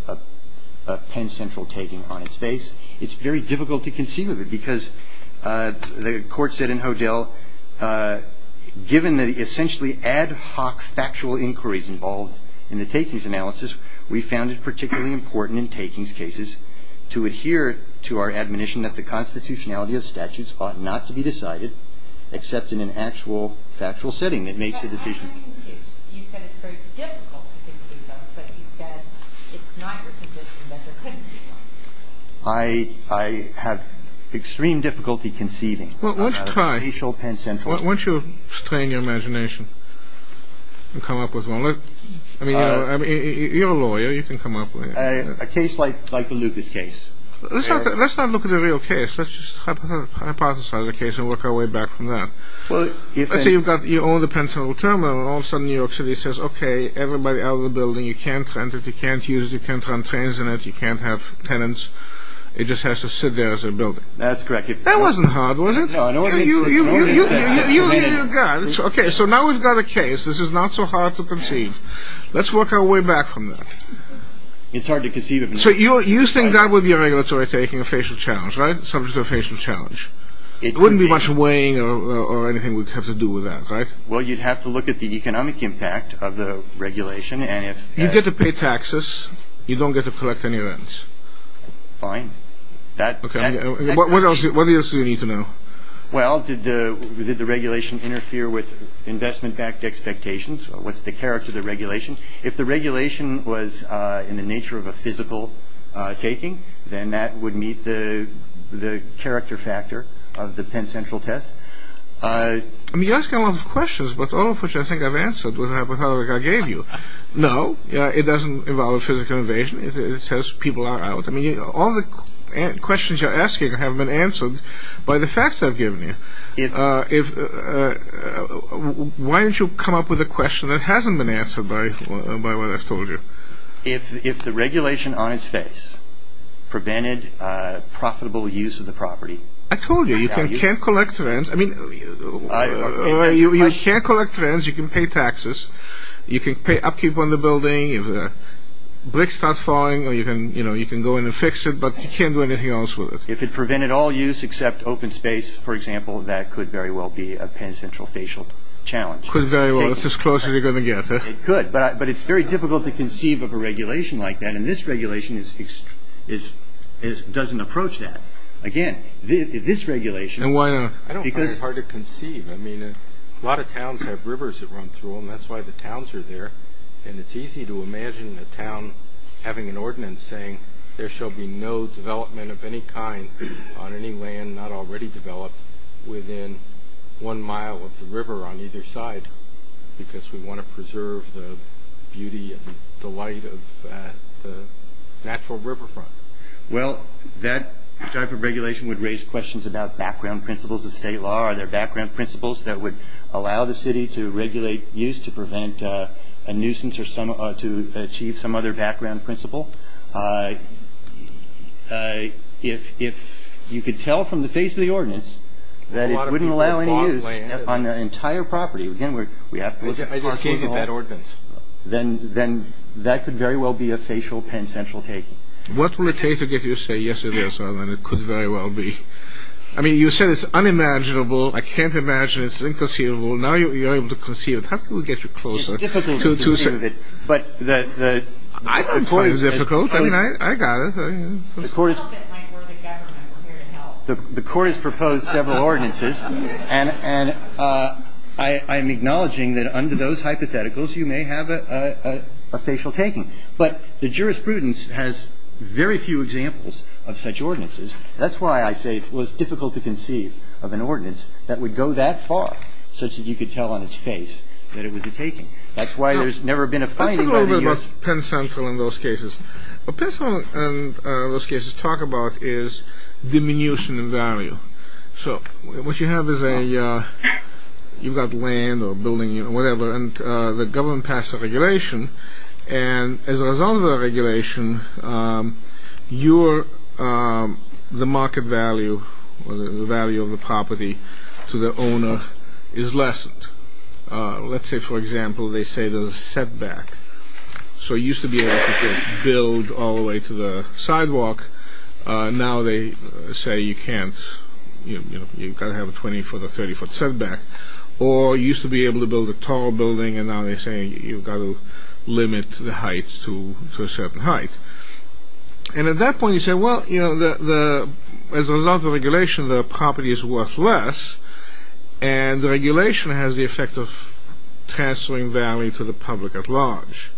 a Penn Central taking on its face. It's very difficult to conceive of it because the court said in Hodel, given the essentially ad hoc factual inquiries involved in the takings analysis, we found it particularly important in takings cases to adhere to our admonition that the constitutionality of statutes ought not to be decided except in an actual factual setting that makes a decision. You said it's very difficult to conceive of, but you said it's not your position that there couldn't be one. I have extreme difficulty conceiving of a facial Penn Central. Why don't you strain your imagination and come up with one? I mean, you're a lawyer. You can come up with it. A case like the Lucas case. Let's not look at the real case. Let's just hypothesize a case and work our way back from that. Let's say you own the Penn Central terminal, and all of a sudden New York City says, okay, everybody out of the building, you can't rent it, you can't use it, you can't run trains in it, you can't have tenants. It just has to sit there as a building. That's correct. That wasn't hard, was it? No, I know what it means to a grown man. Okay, so now we've got a case. This is not so hard to conceive. Let's work our way back from that. It's hard to conceive of. So you think that would be a regulatory taking a facial challenge, right? Subject to a facial challenge. It wouldn't be much weighing or anything we'd have to do with that, right? Well, you'd have to look at the economic impact of the regulation. You get to pay taxes. You don't get to collect any rent. Fine. What else do you need to know? Well, did the regulation interfere with investment-backed expectations? What's the character of the regulation? If the regulation was in the nature of a physical taking, then that would meet the character factor of the Penn Central test. I mean, you're asking a lot of questions, but all of which I think I've answered with the hypothetical I gave you. No, it doesn't involve a physical invasion. It says people are out. I mean, all the questions you're asking have been answered by the facts I've given you. Why don't you come up with a question that hasn't been answered by what I've told you? If the regulation on its face prevented profitable use of the property. I told you, you can't collect rent. I mean, you can't collect rent. You can pay taxes. You can pay upkeep on the building if bricks start falling, or you can go in and fix it, but you can't do anything else with it. If it prevented all use except open space, for example, that could very well be a Penn Central facial challenge. Could very well. It's as close as you're going to get. It could, but it's very difficult to conceive of a regulation like that, and this regulation doesn't approach that. Again, this regulation. And why not? I don't find it hard to conceive. I mean, a lot of towns have rivers that run through them. That's why the towns are there, and it's easy to imagine a town having an ordinance saying, there shall be no development of any kind on any land not already developed within one mile of the river on either side, because we want to preserve the beauty and delight of the natural riverfront. Well, that type of regulation would raise questions about background principles of state law. Are there background principles that would allow the city to regulate use to prevent a nuisance or to achieve some other background principle? If you could tell from the face of the ordinance that it wouldn't allow any use on the entire property, then that could very well be a facial Penn Central take. What will it take to get you to say, yes, it is, and it could very well be? I mean, you said it's unimaginable. I can't imagine it's inconceivable. Now you're able to conceive it. How can we get you closer? It's difficult to conceive it. But the court has proposed several ordinances, and I'm acknowledging that under those hypotheticals, you may have a facial taking. But the jurisprudence has very few examples of such ordinances. That's why I say it was difficult to conceive of an ordinance that would go that far such that you could tell on its face that it was a taking. That's why there's never been a fighting. Let's talk a little bit about Penn Central in those cases. What Penn Central in those cases talk about is diminution in value. So what you have is you've got land or a building or whatever, and the government passed a regulation, and as a result of that regulation, the market value or the value of the property to the owner is lessened. Let's say, for example, they say there's a setback. So it used to be able to build all the way to the sidewalk. Now they say you can't. You've got to have a 20-foot or 30-foot setback. Or it used to be able to build a tall building, and now they're saying you've got to limit the height to a certain height. And at that point, you say, well, as a result of the regulation, the property is worth less, and the regulation has the effect of transferring value to the public at large.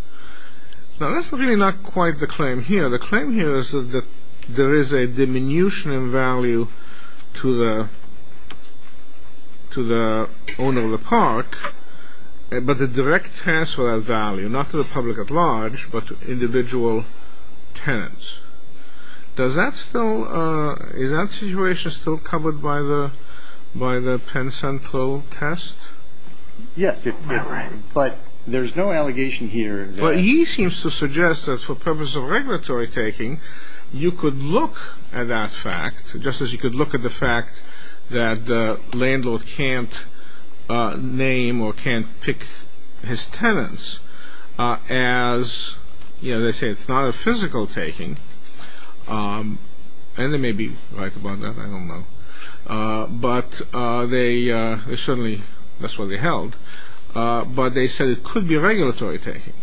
Now that's really not quite the claim here. The claim here is that there is a diminution in value to the owner of the park, but a direct transfer of value, not to the public at large, but to individual tenants. Is that situation still covered by the Penn Central test? Yes, but there's no allegation here. Well, he seems to suggest that for purposes of regulatory taking, you could look at that fact just as you could look at the fact that the landlord can't name or can't pick his tenants as, you know, they say it's not a physical taking, and they may be right about that, I don't know. But they certainly, that's what they held. But they said it could be regulatory taking.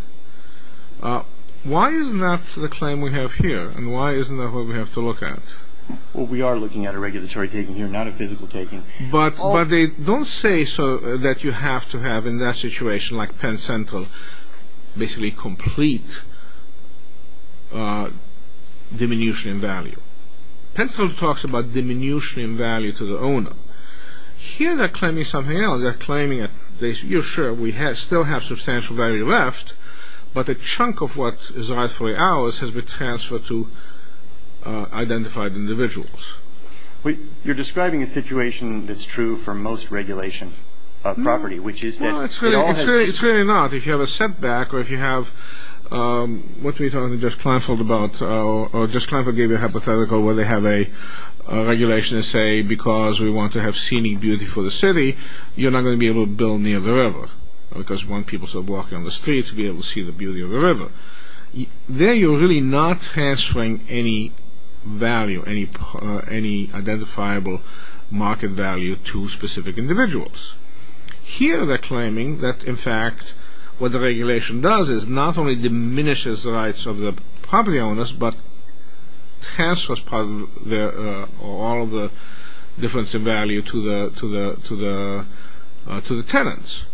Why is that the claim we have here, and why isn't that what we have to look at? Well, we are looking at a regulatory taking here, not a physical taking. But they don't say that you have to have, in that situation, like Penn Central, basically complete diminution in value. Here they're claiming something else. They're claiming, you're sure we still have substantial value left, but a chunk of what is rightfully ours has been transferred to identified individuals. You're describing a situation that's true for most regulation property, which is that... No, it's really not. If you have a setback, or if you have, what we were talking to Jeff Kleinfeld about, or Jeff Kleinfeld gave you a hypothetical where they have a regulation and say, because we want to have scenic beauty for the city, you're not going to be able to build near the river, because you want people to walk down the street to be able to see the beauty of the river. There you're really not transferring any value, any identifiable market value to specific individuals. Here they're claiming that, in fact, what the regulation does is not only diminishes the rights of the property owners, but transfers all of the difference in value to the tenants.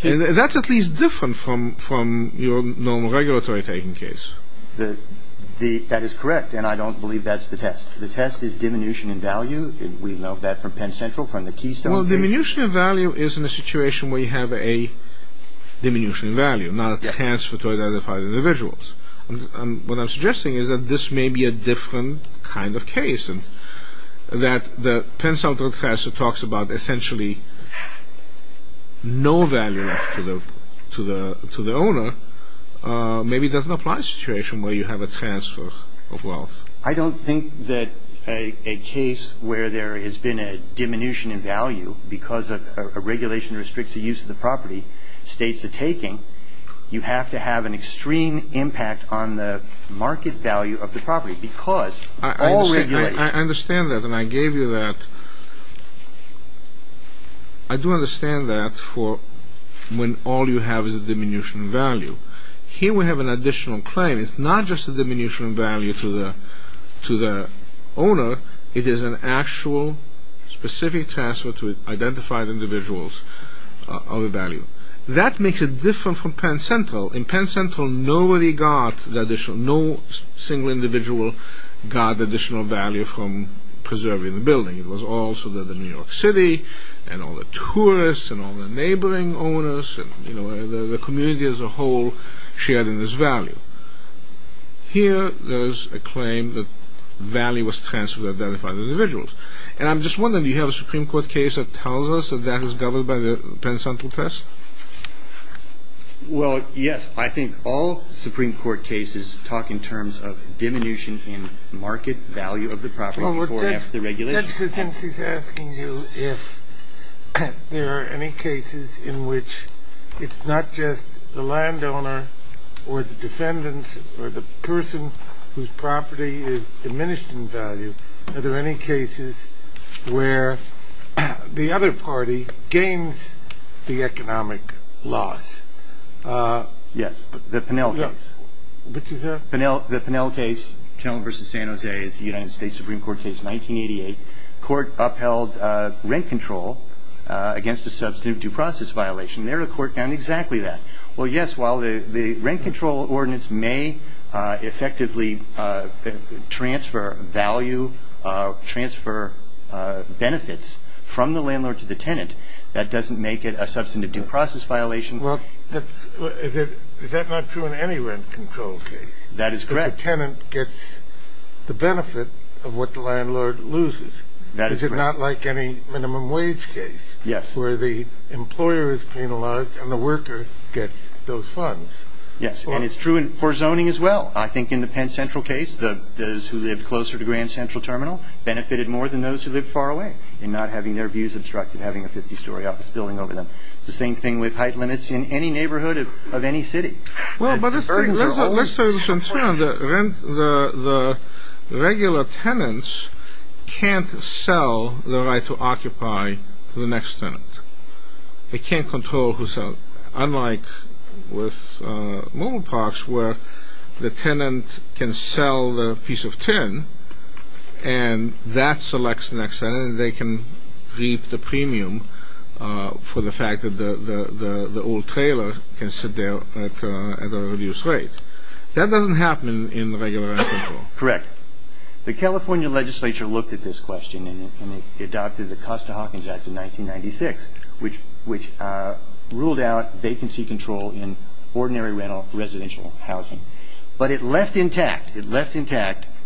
That's at least different from your normal regulatory taking case. That is correct, and I don't believe that's the test. The test is diminution in value. We know that from Penn Central, from the Keystone case. Well, diminution in value is in a situation where you have a diminution in value, not a transfer to identify the individuals. What I'm suggesting is that this may be a different kind of case, and that the Penn Central test that talks about essentially no value left to the owner maybe doesn't apply to a situation where you have a transfer of wealth. I don't think that a case where there has been a diminution in value because a regulation restricts the use of the property states the taking. You have to have an extreme impact on the market value of the property because all regulation I understand that, and I gave you that. I do understand that for when all you have is a diminution in value. Here we have an additional claim. It's not just a diminution in value to the owner. It is an actual specific transfer to identify the individuals of a value. That makes it different from Penn Central. In Penn Central, nobody got the additional, no single individual got additional value from preserving the building. It was also the New York City and all the tourists and all the neighboring owners and the community as a whole shared in this value. Here there is a claim that value was transferred to identify the individuals. And I'm just wondering, do you have a Supreme Court case that tells us that that is governed by the Penn Central test? Well, yes. I think all Supreme Court cases talk in terms of diminution in market value of the property That's because he's asking you if there are any cases in which it's not just the landowner or the defendant or the person whose property is diminished in value. Are there any cases where the other party gains the economic loss? Yes, the Pennell case. Which is a? The Pennell case. Pennell v. San Jose is a United States Supreme Court case, 1988. The court upheld rent control against a substantive due process violation. There the court found exactly that. Well, yes, while the rent control ordinance may effectively transfer value, transfer benefits from the landlord to the tenant, that doesn't make it a substantive due process violation. Well, is that not true in any rent control case? That is correct. The tenant gets the benefit of what the landlord loses. Is it not like any minimum wage case where the employer is penalized and the worker gets those funds? Yes, and it's true for zoning as well. I think in the Penn Central case, those who lived closer to Grand Central Terminal benefited more than those who lived far away in not having their views obstructed, having a 50-story office building over them. It's the same thing with height limits in any neighborhood of any city. Well, but let's say this in turn. The regular tenants can't sell the right to occupy to the next tenant. They can't control who sells. Unlike with mobile parks where the tenant can sell the piece of tin and that selects the next tenant and they can reap the premium for the fact that the old trailer can sit there at a reduced rate. That doesn't happen in regular rent control. Correct. The California legislature looked at this question and they adopted the Costa-Hawkins Act of 1996, which ruled out vacancy control in ordinary residential housing. But it left intact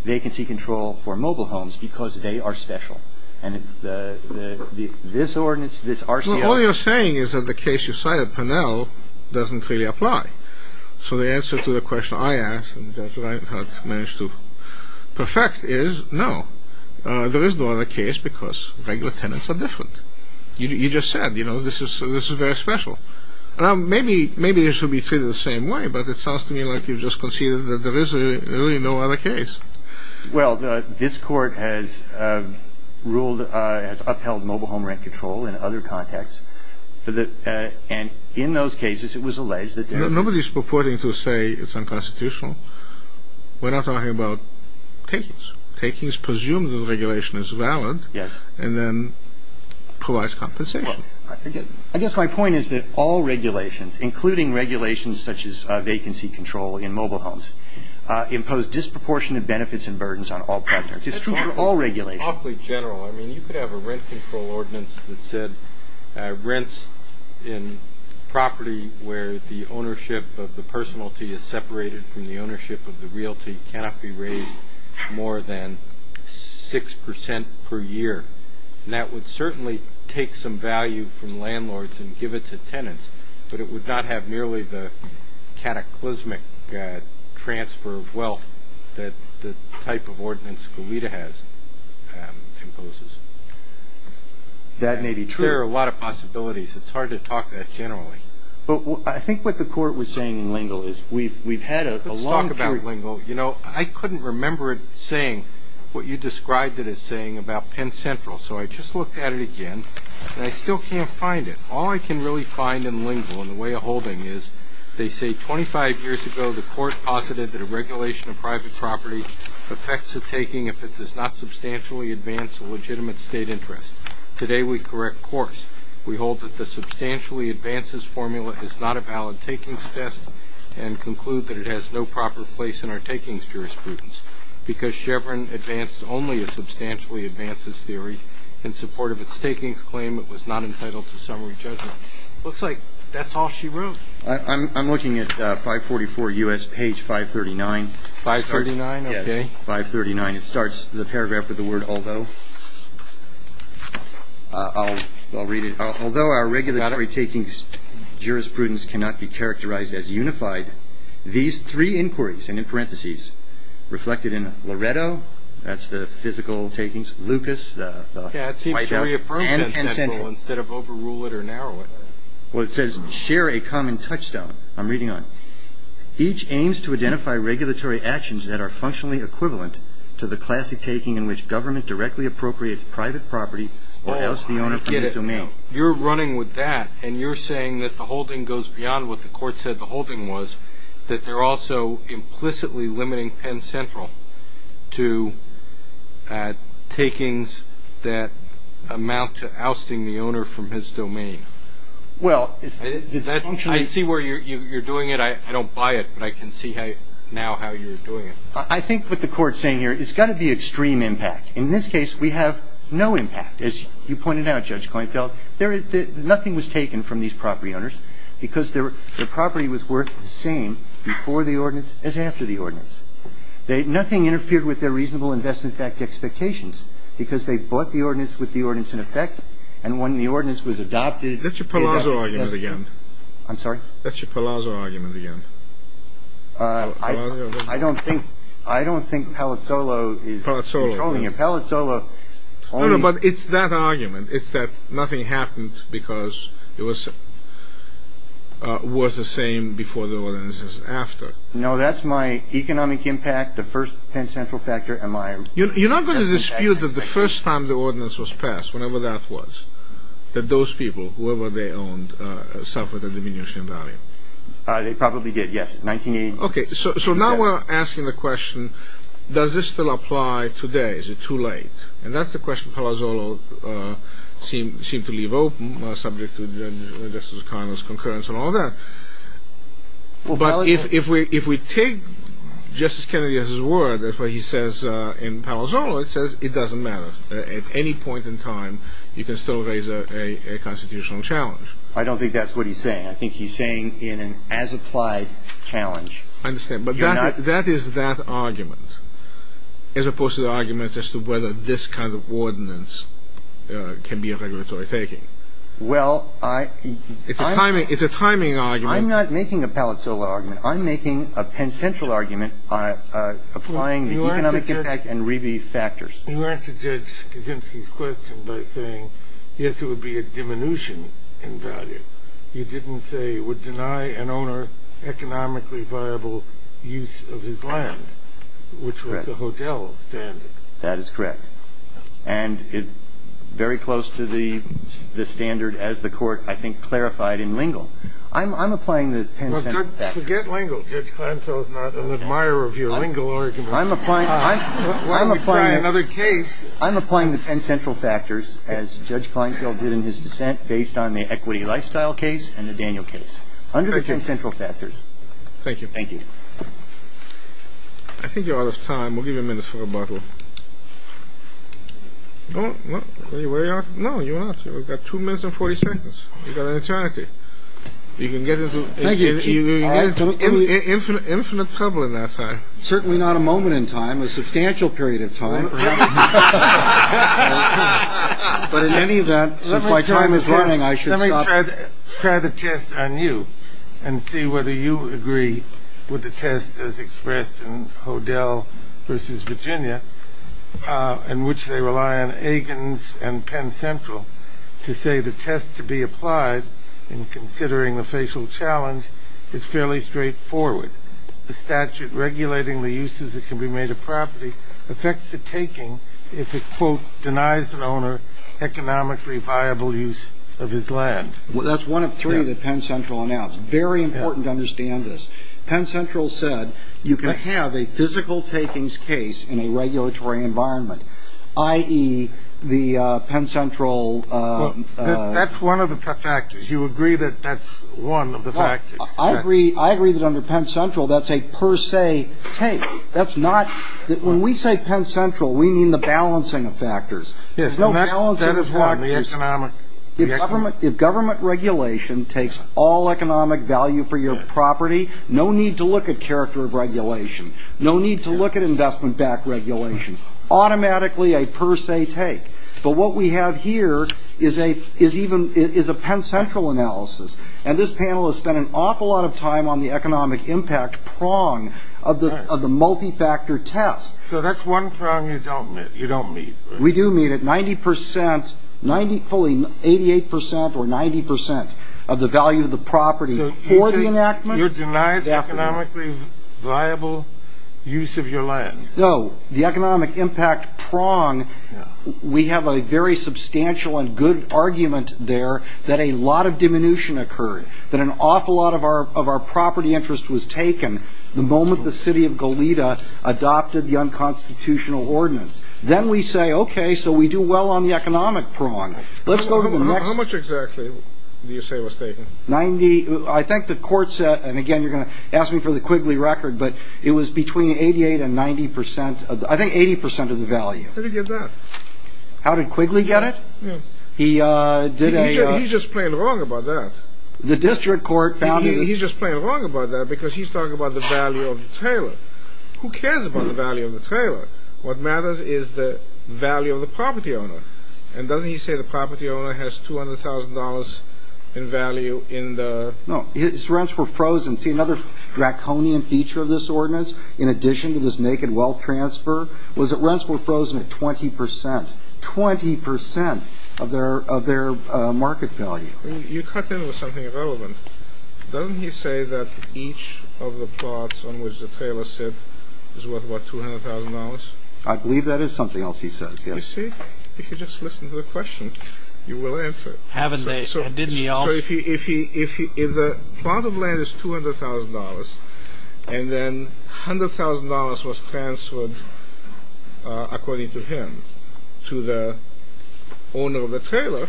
vacancy control for mobile homes because they are special, and this ordinance, this RCR... Well, all you're saying is that the case you cited, Pennell, doesn't really apply. So the answer to the question I asked and Judge Reinhart managed to perfect is no. There is no other case because regular tenants are different. You just said, you know, this is very special. Maybe this should be treated the same way, but it sounds to me like you've just conceded that there is really no other case. Well, this court has upheld mobile home rent control in other contexts, and in those cases it was alleged that... Nobody is purporting to say it's unconstitutional. We're not talking about takings. Takings presume that the regulation is valid and then provides compensation. I guess my point is that all regulations, including regulations such as vacancy control in mobile homes, impose disproportionate benefits and burdens on all property owners. It's true for all regulations. Awfully general. I mean, you could have a rent control ordinance that said rents in property where the ownership of the personality is separated from the ownership of the realty cannot be raised more than 6% per year. But it would not have nearly the cataclysmic transfer of wealth that the type of ordinance Goleta has imposes. That may be true. There are a lot of possibilities. It's hard to talk that generally. But I think what the court was saying in Lingle is we've had a long period... Let's talk about Lingle. You know, I couldn't remember it saying what you described it as saying about Penn Central, so I just looked at it again, and I still can't find it. All I can really find in Lingle and the way of holding it is they say 25 years ago the court posited that a regulation of private property affects a taking if it does not substantially advance a legitimate state interest. Today we correct course. We hold that the substantially advances formula is not a valid takings test and conclude that it has no proper place in our takings jurisprudence because Chevron advanced only a substantially advances theory in support of its takings claim it was not entitled to summary judgment. It looks like that's all she wrote. I'm looking at 544 U.S. page 539. 539, okay. 539. It starts the paragraph with the word although. I'll read it. Although our regulatory takings jurisprudence cannot be characterized as unified, these three inquiries, and in parentheses, reflected in Loretto, that's the physical takings, Lucas, the White House, and Penn Central. Yeah, it seems she reaffirmed Penn Central instead of overrule it or narrow it. Well, it says share a common touchstone. I'm reading on it. Each aims to identify regulatory actions that are functionally equivalent to the classic taking in which government directly appropriates private property or else the owner from his domain. Oh, I get it. You're running with that, and you're saying that the holding goes beyond what the court said the holding was, that they're also implicitly limiting Penn Central to takings that amount to ousting the owner from his domain. Well, it's functionally. I see where you're doing it. I don't buy it, but I can see now how you're doing it. I think what the court's saying here, it's got to be extreme impact. In this case, we have no impact. As you pointed out, Judge Cohenfeld, nothing was taken from these property owners because their property was worth the same before the ordinance as after the ordinance. Nothing interfered with their reasonable investment fact expectations because they bought the ordinance with the ordinance in effect, and when the ordinance was adopted. That's your Palazzo argument again. I'm sorry? That's your Palazzo argument again. I don't think Palazzolo is controlling it. Palazzolo. No, no, but it's that argument. It's that nothing happened because it was worth the same before the ordinance as after. No, that's my economic impact. The first Penn Central factor. You're not going to dispute that the first time the ordinance was passed, whenever that was, that those people, whoever they owned, suffered a diminution in value. They probably did, yes. So now we're asking the question, does this still apply today? Is it too late? And that's the question Palazzolo seemed to leave open, subject to Justice O'Connor's concurrence on all that. But if we take Justice Kennedy as his word, that's what he says in Palazzolo, it says it doesn't matter. At any point in time, you can still raise a constitutional challenge. I don't think that's what he's saying. I think he's saying in an as-applied challenge. I understand, but that is that argument, as opposed to the argument as to whether this kind of ordinance can be a regulatory taking. Well, I... It's a timing argument. I'm not making a Palazzolo argument. I'm making a Penn Central argument applying the economic impact and rebate factors. You answered Judge Kaczynski's question by saying, yes, it would be a diminution in value. You didn't say it would deny an owner economically viable use of his land. Correct. Which was the Hodel standard. That is correct. And it's very close to the standard as the Court, I think, clarified in Lingle. I'm applying the Penn Central factors. Well, forget Lingle. Judge Kleinfeld is not an admirer of your Lingle argument. I'm applying... Well, we try another case. I'm applying the Penn Central factors, as Judge Kleinfeld did in his dissent, based on the Equity Lifestyle case and the Daniel case. Under the Penn Central factors... Thank you. Thank you. I think you're out of time. We'll give you a minute for rebuttal. No, you're not. You've got two minutes and 40 seconds. You've got an eternity. You can get into infinite trouble in that time. Certainly not a moment in time, a substantial period of time. But in any event, since my time is running, I should stop. I'm going to try the test on you and see whether you agree with the test as expressed in Hodel v. Virginia, in which they rely on Agins and Penn Central to say the test to be applied in considering the facial challenge is fairly straightforward. The statute regulating the uses that can be made of property affects the taking if it, quote, denies an owner economically viable use of his land. That's one of three that Penn Central announced. Very important to understand this. Penn Central said you can have a physical takings case in a regulatory environment, i.e., the Penn Central... That's one of the factors. You agree that that's one of the factors. I agree that under Penn Central that's a per se take. When we say Penn Central, we mean the balancing of factors. There's no balancing of factors. If government regulation takes all economic value for your property, no need to look at character of regulation. No need to look at investment-backed regulation. Automatically a per se take. But what we have here is a Penn Central analysis, and this panel has spent an awful lot of time on the economic impact prong of the multi-factor test. So that's one prong you don't meet. We do meet it, 90 percent, fully 88 percent or 90 percent of the value of the property for the enactment. So you're denying economically viable use of your land. No. The economic impact prong, we have a very substantial and good argument there that a lot of diminution occurred, that an awful lot of our property interest was taken the moment the city of Goleta adopted the unconstitutional ordinance. Then we say, okay, so we do well on the economic prong. How much exactly do you say was taken? I think the court said, and again you're going to ask me for the Quigley record, but it was between 88 and 90 percent, I think 80 percent of the value. How did he get that? How did Quigley get it? He did a- He's just plain wrong about that. The district court found- He's just plain wrong about that because he's talking about the value of the trailer. Who cares about the value of the trailer? What matters is the value of the property owner. And doesn't he say the property owner has $200,000 in value in the- No. His rents were frozen. See, another draconian feature of this ordinance, in addition to this naked wealth transfer, was that rents were frozen at 20 percent, 20 percent of their market value. You cut in with something irrelevant. Doesn't he say that each of the plots on which the trailer sits is worth, what, $200,000? I believe that is something else he says, yes. You see, if you just listen to the question, you will answer it. Haven't they? And didn't he also- If the plot of land is $200,000 and then $100,000 was transferred, according to him, to the owner of the trailer,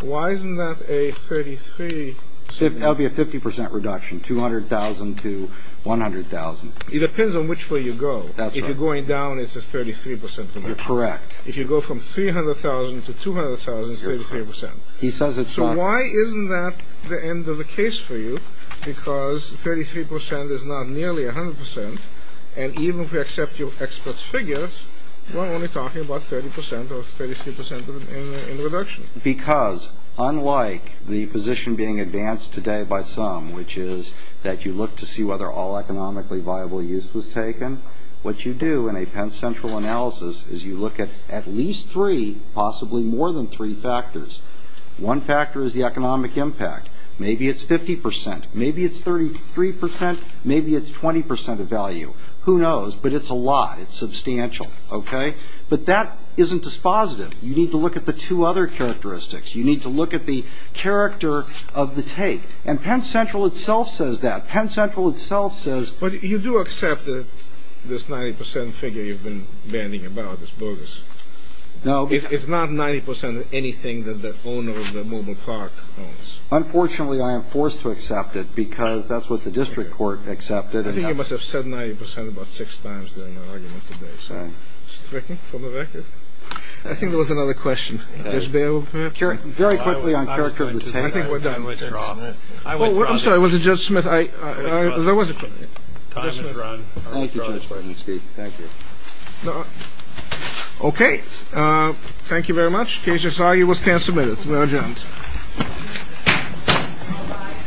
why isn't that a 33- That would be a 50 percent reduction, 200,000 to 100,000. It depends on which way you go. That's right. If you're going down, it's a 33 percent reduction. You're correct. If you go from 300,000 to 200,000, it's 33 percent. You're correct. He says it's not- So why isn't that the end of the case for you? Because 33 percent is not nearly 100 percent, and even if we accept your expert's figures, we're only talking about 30 percent or 33 percent in the reduction. Because, unlike the position being advanced today by some, which is that you look to see whether all economically viable use was taken, what you do in a Penn Central analysis is you look at at least three, possibly more than three factors. One factor is the economic impact. Maybe it's 50 percent. Maybe it's 33 percent. Maybe it's 20 percent of value. Who knows? But it's a lot. It's substantial. Okay? But that isn't dispositive. You need to look at the two other characteristics. You need to look at the character of the take, and Penn Central itself says that. Penn Central itself says- But you do accept that this 90 percent figure you've been bandying about is bogus? No. It's not 90 percent of anything that the owner of the mobile park owns. Unfortunately, I am forced to accept it because that's what the district court accepted. I think you must have said 90 percent about six times during our argument today. So it's tricky for the record. I think there was another question. Very quickly on character of the take. I think we're done. I'm sorry. Was it Judge Smith? There was a question. Time has run. Thank you, Judge Bartoski. Thank you. Okay. Thank you very much. Case is argued. We stand submitted. We are adjourned.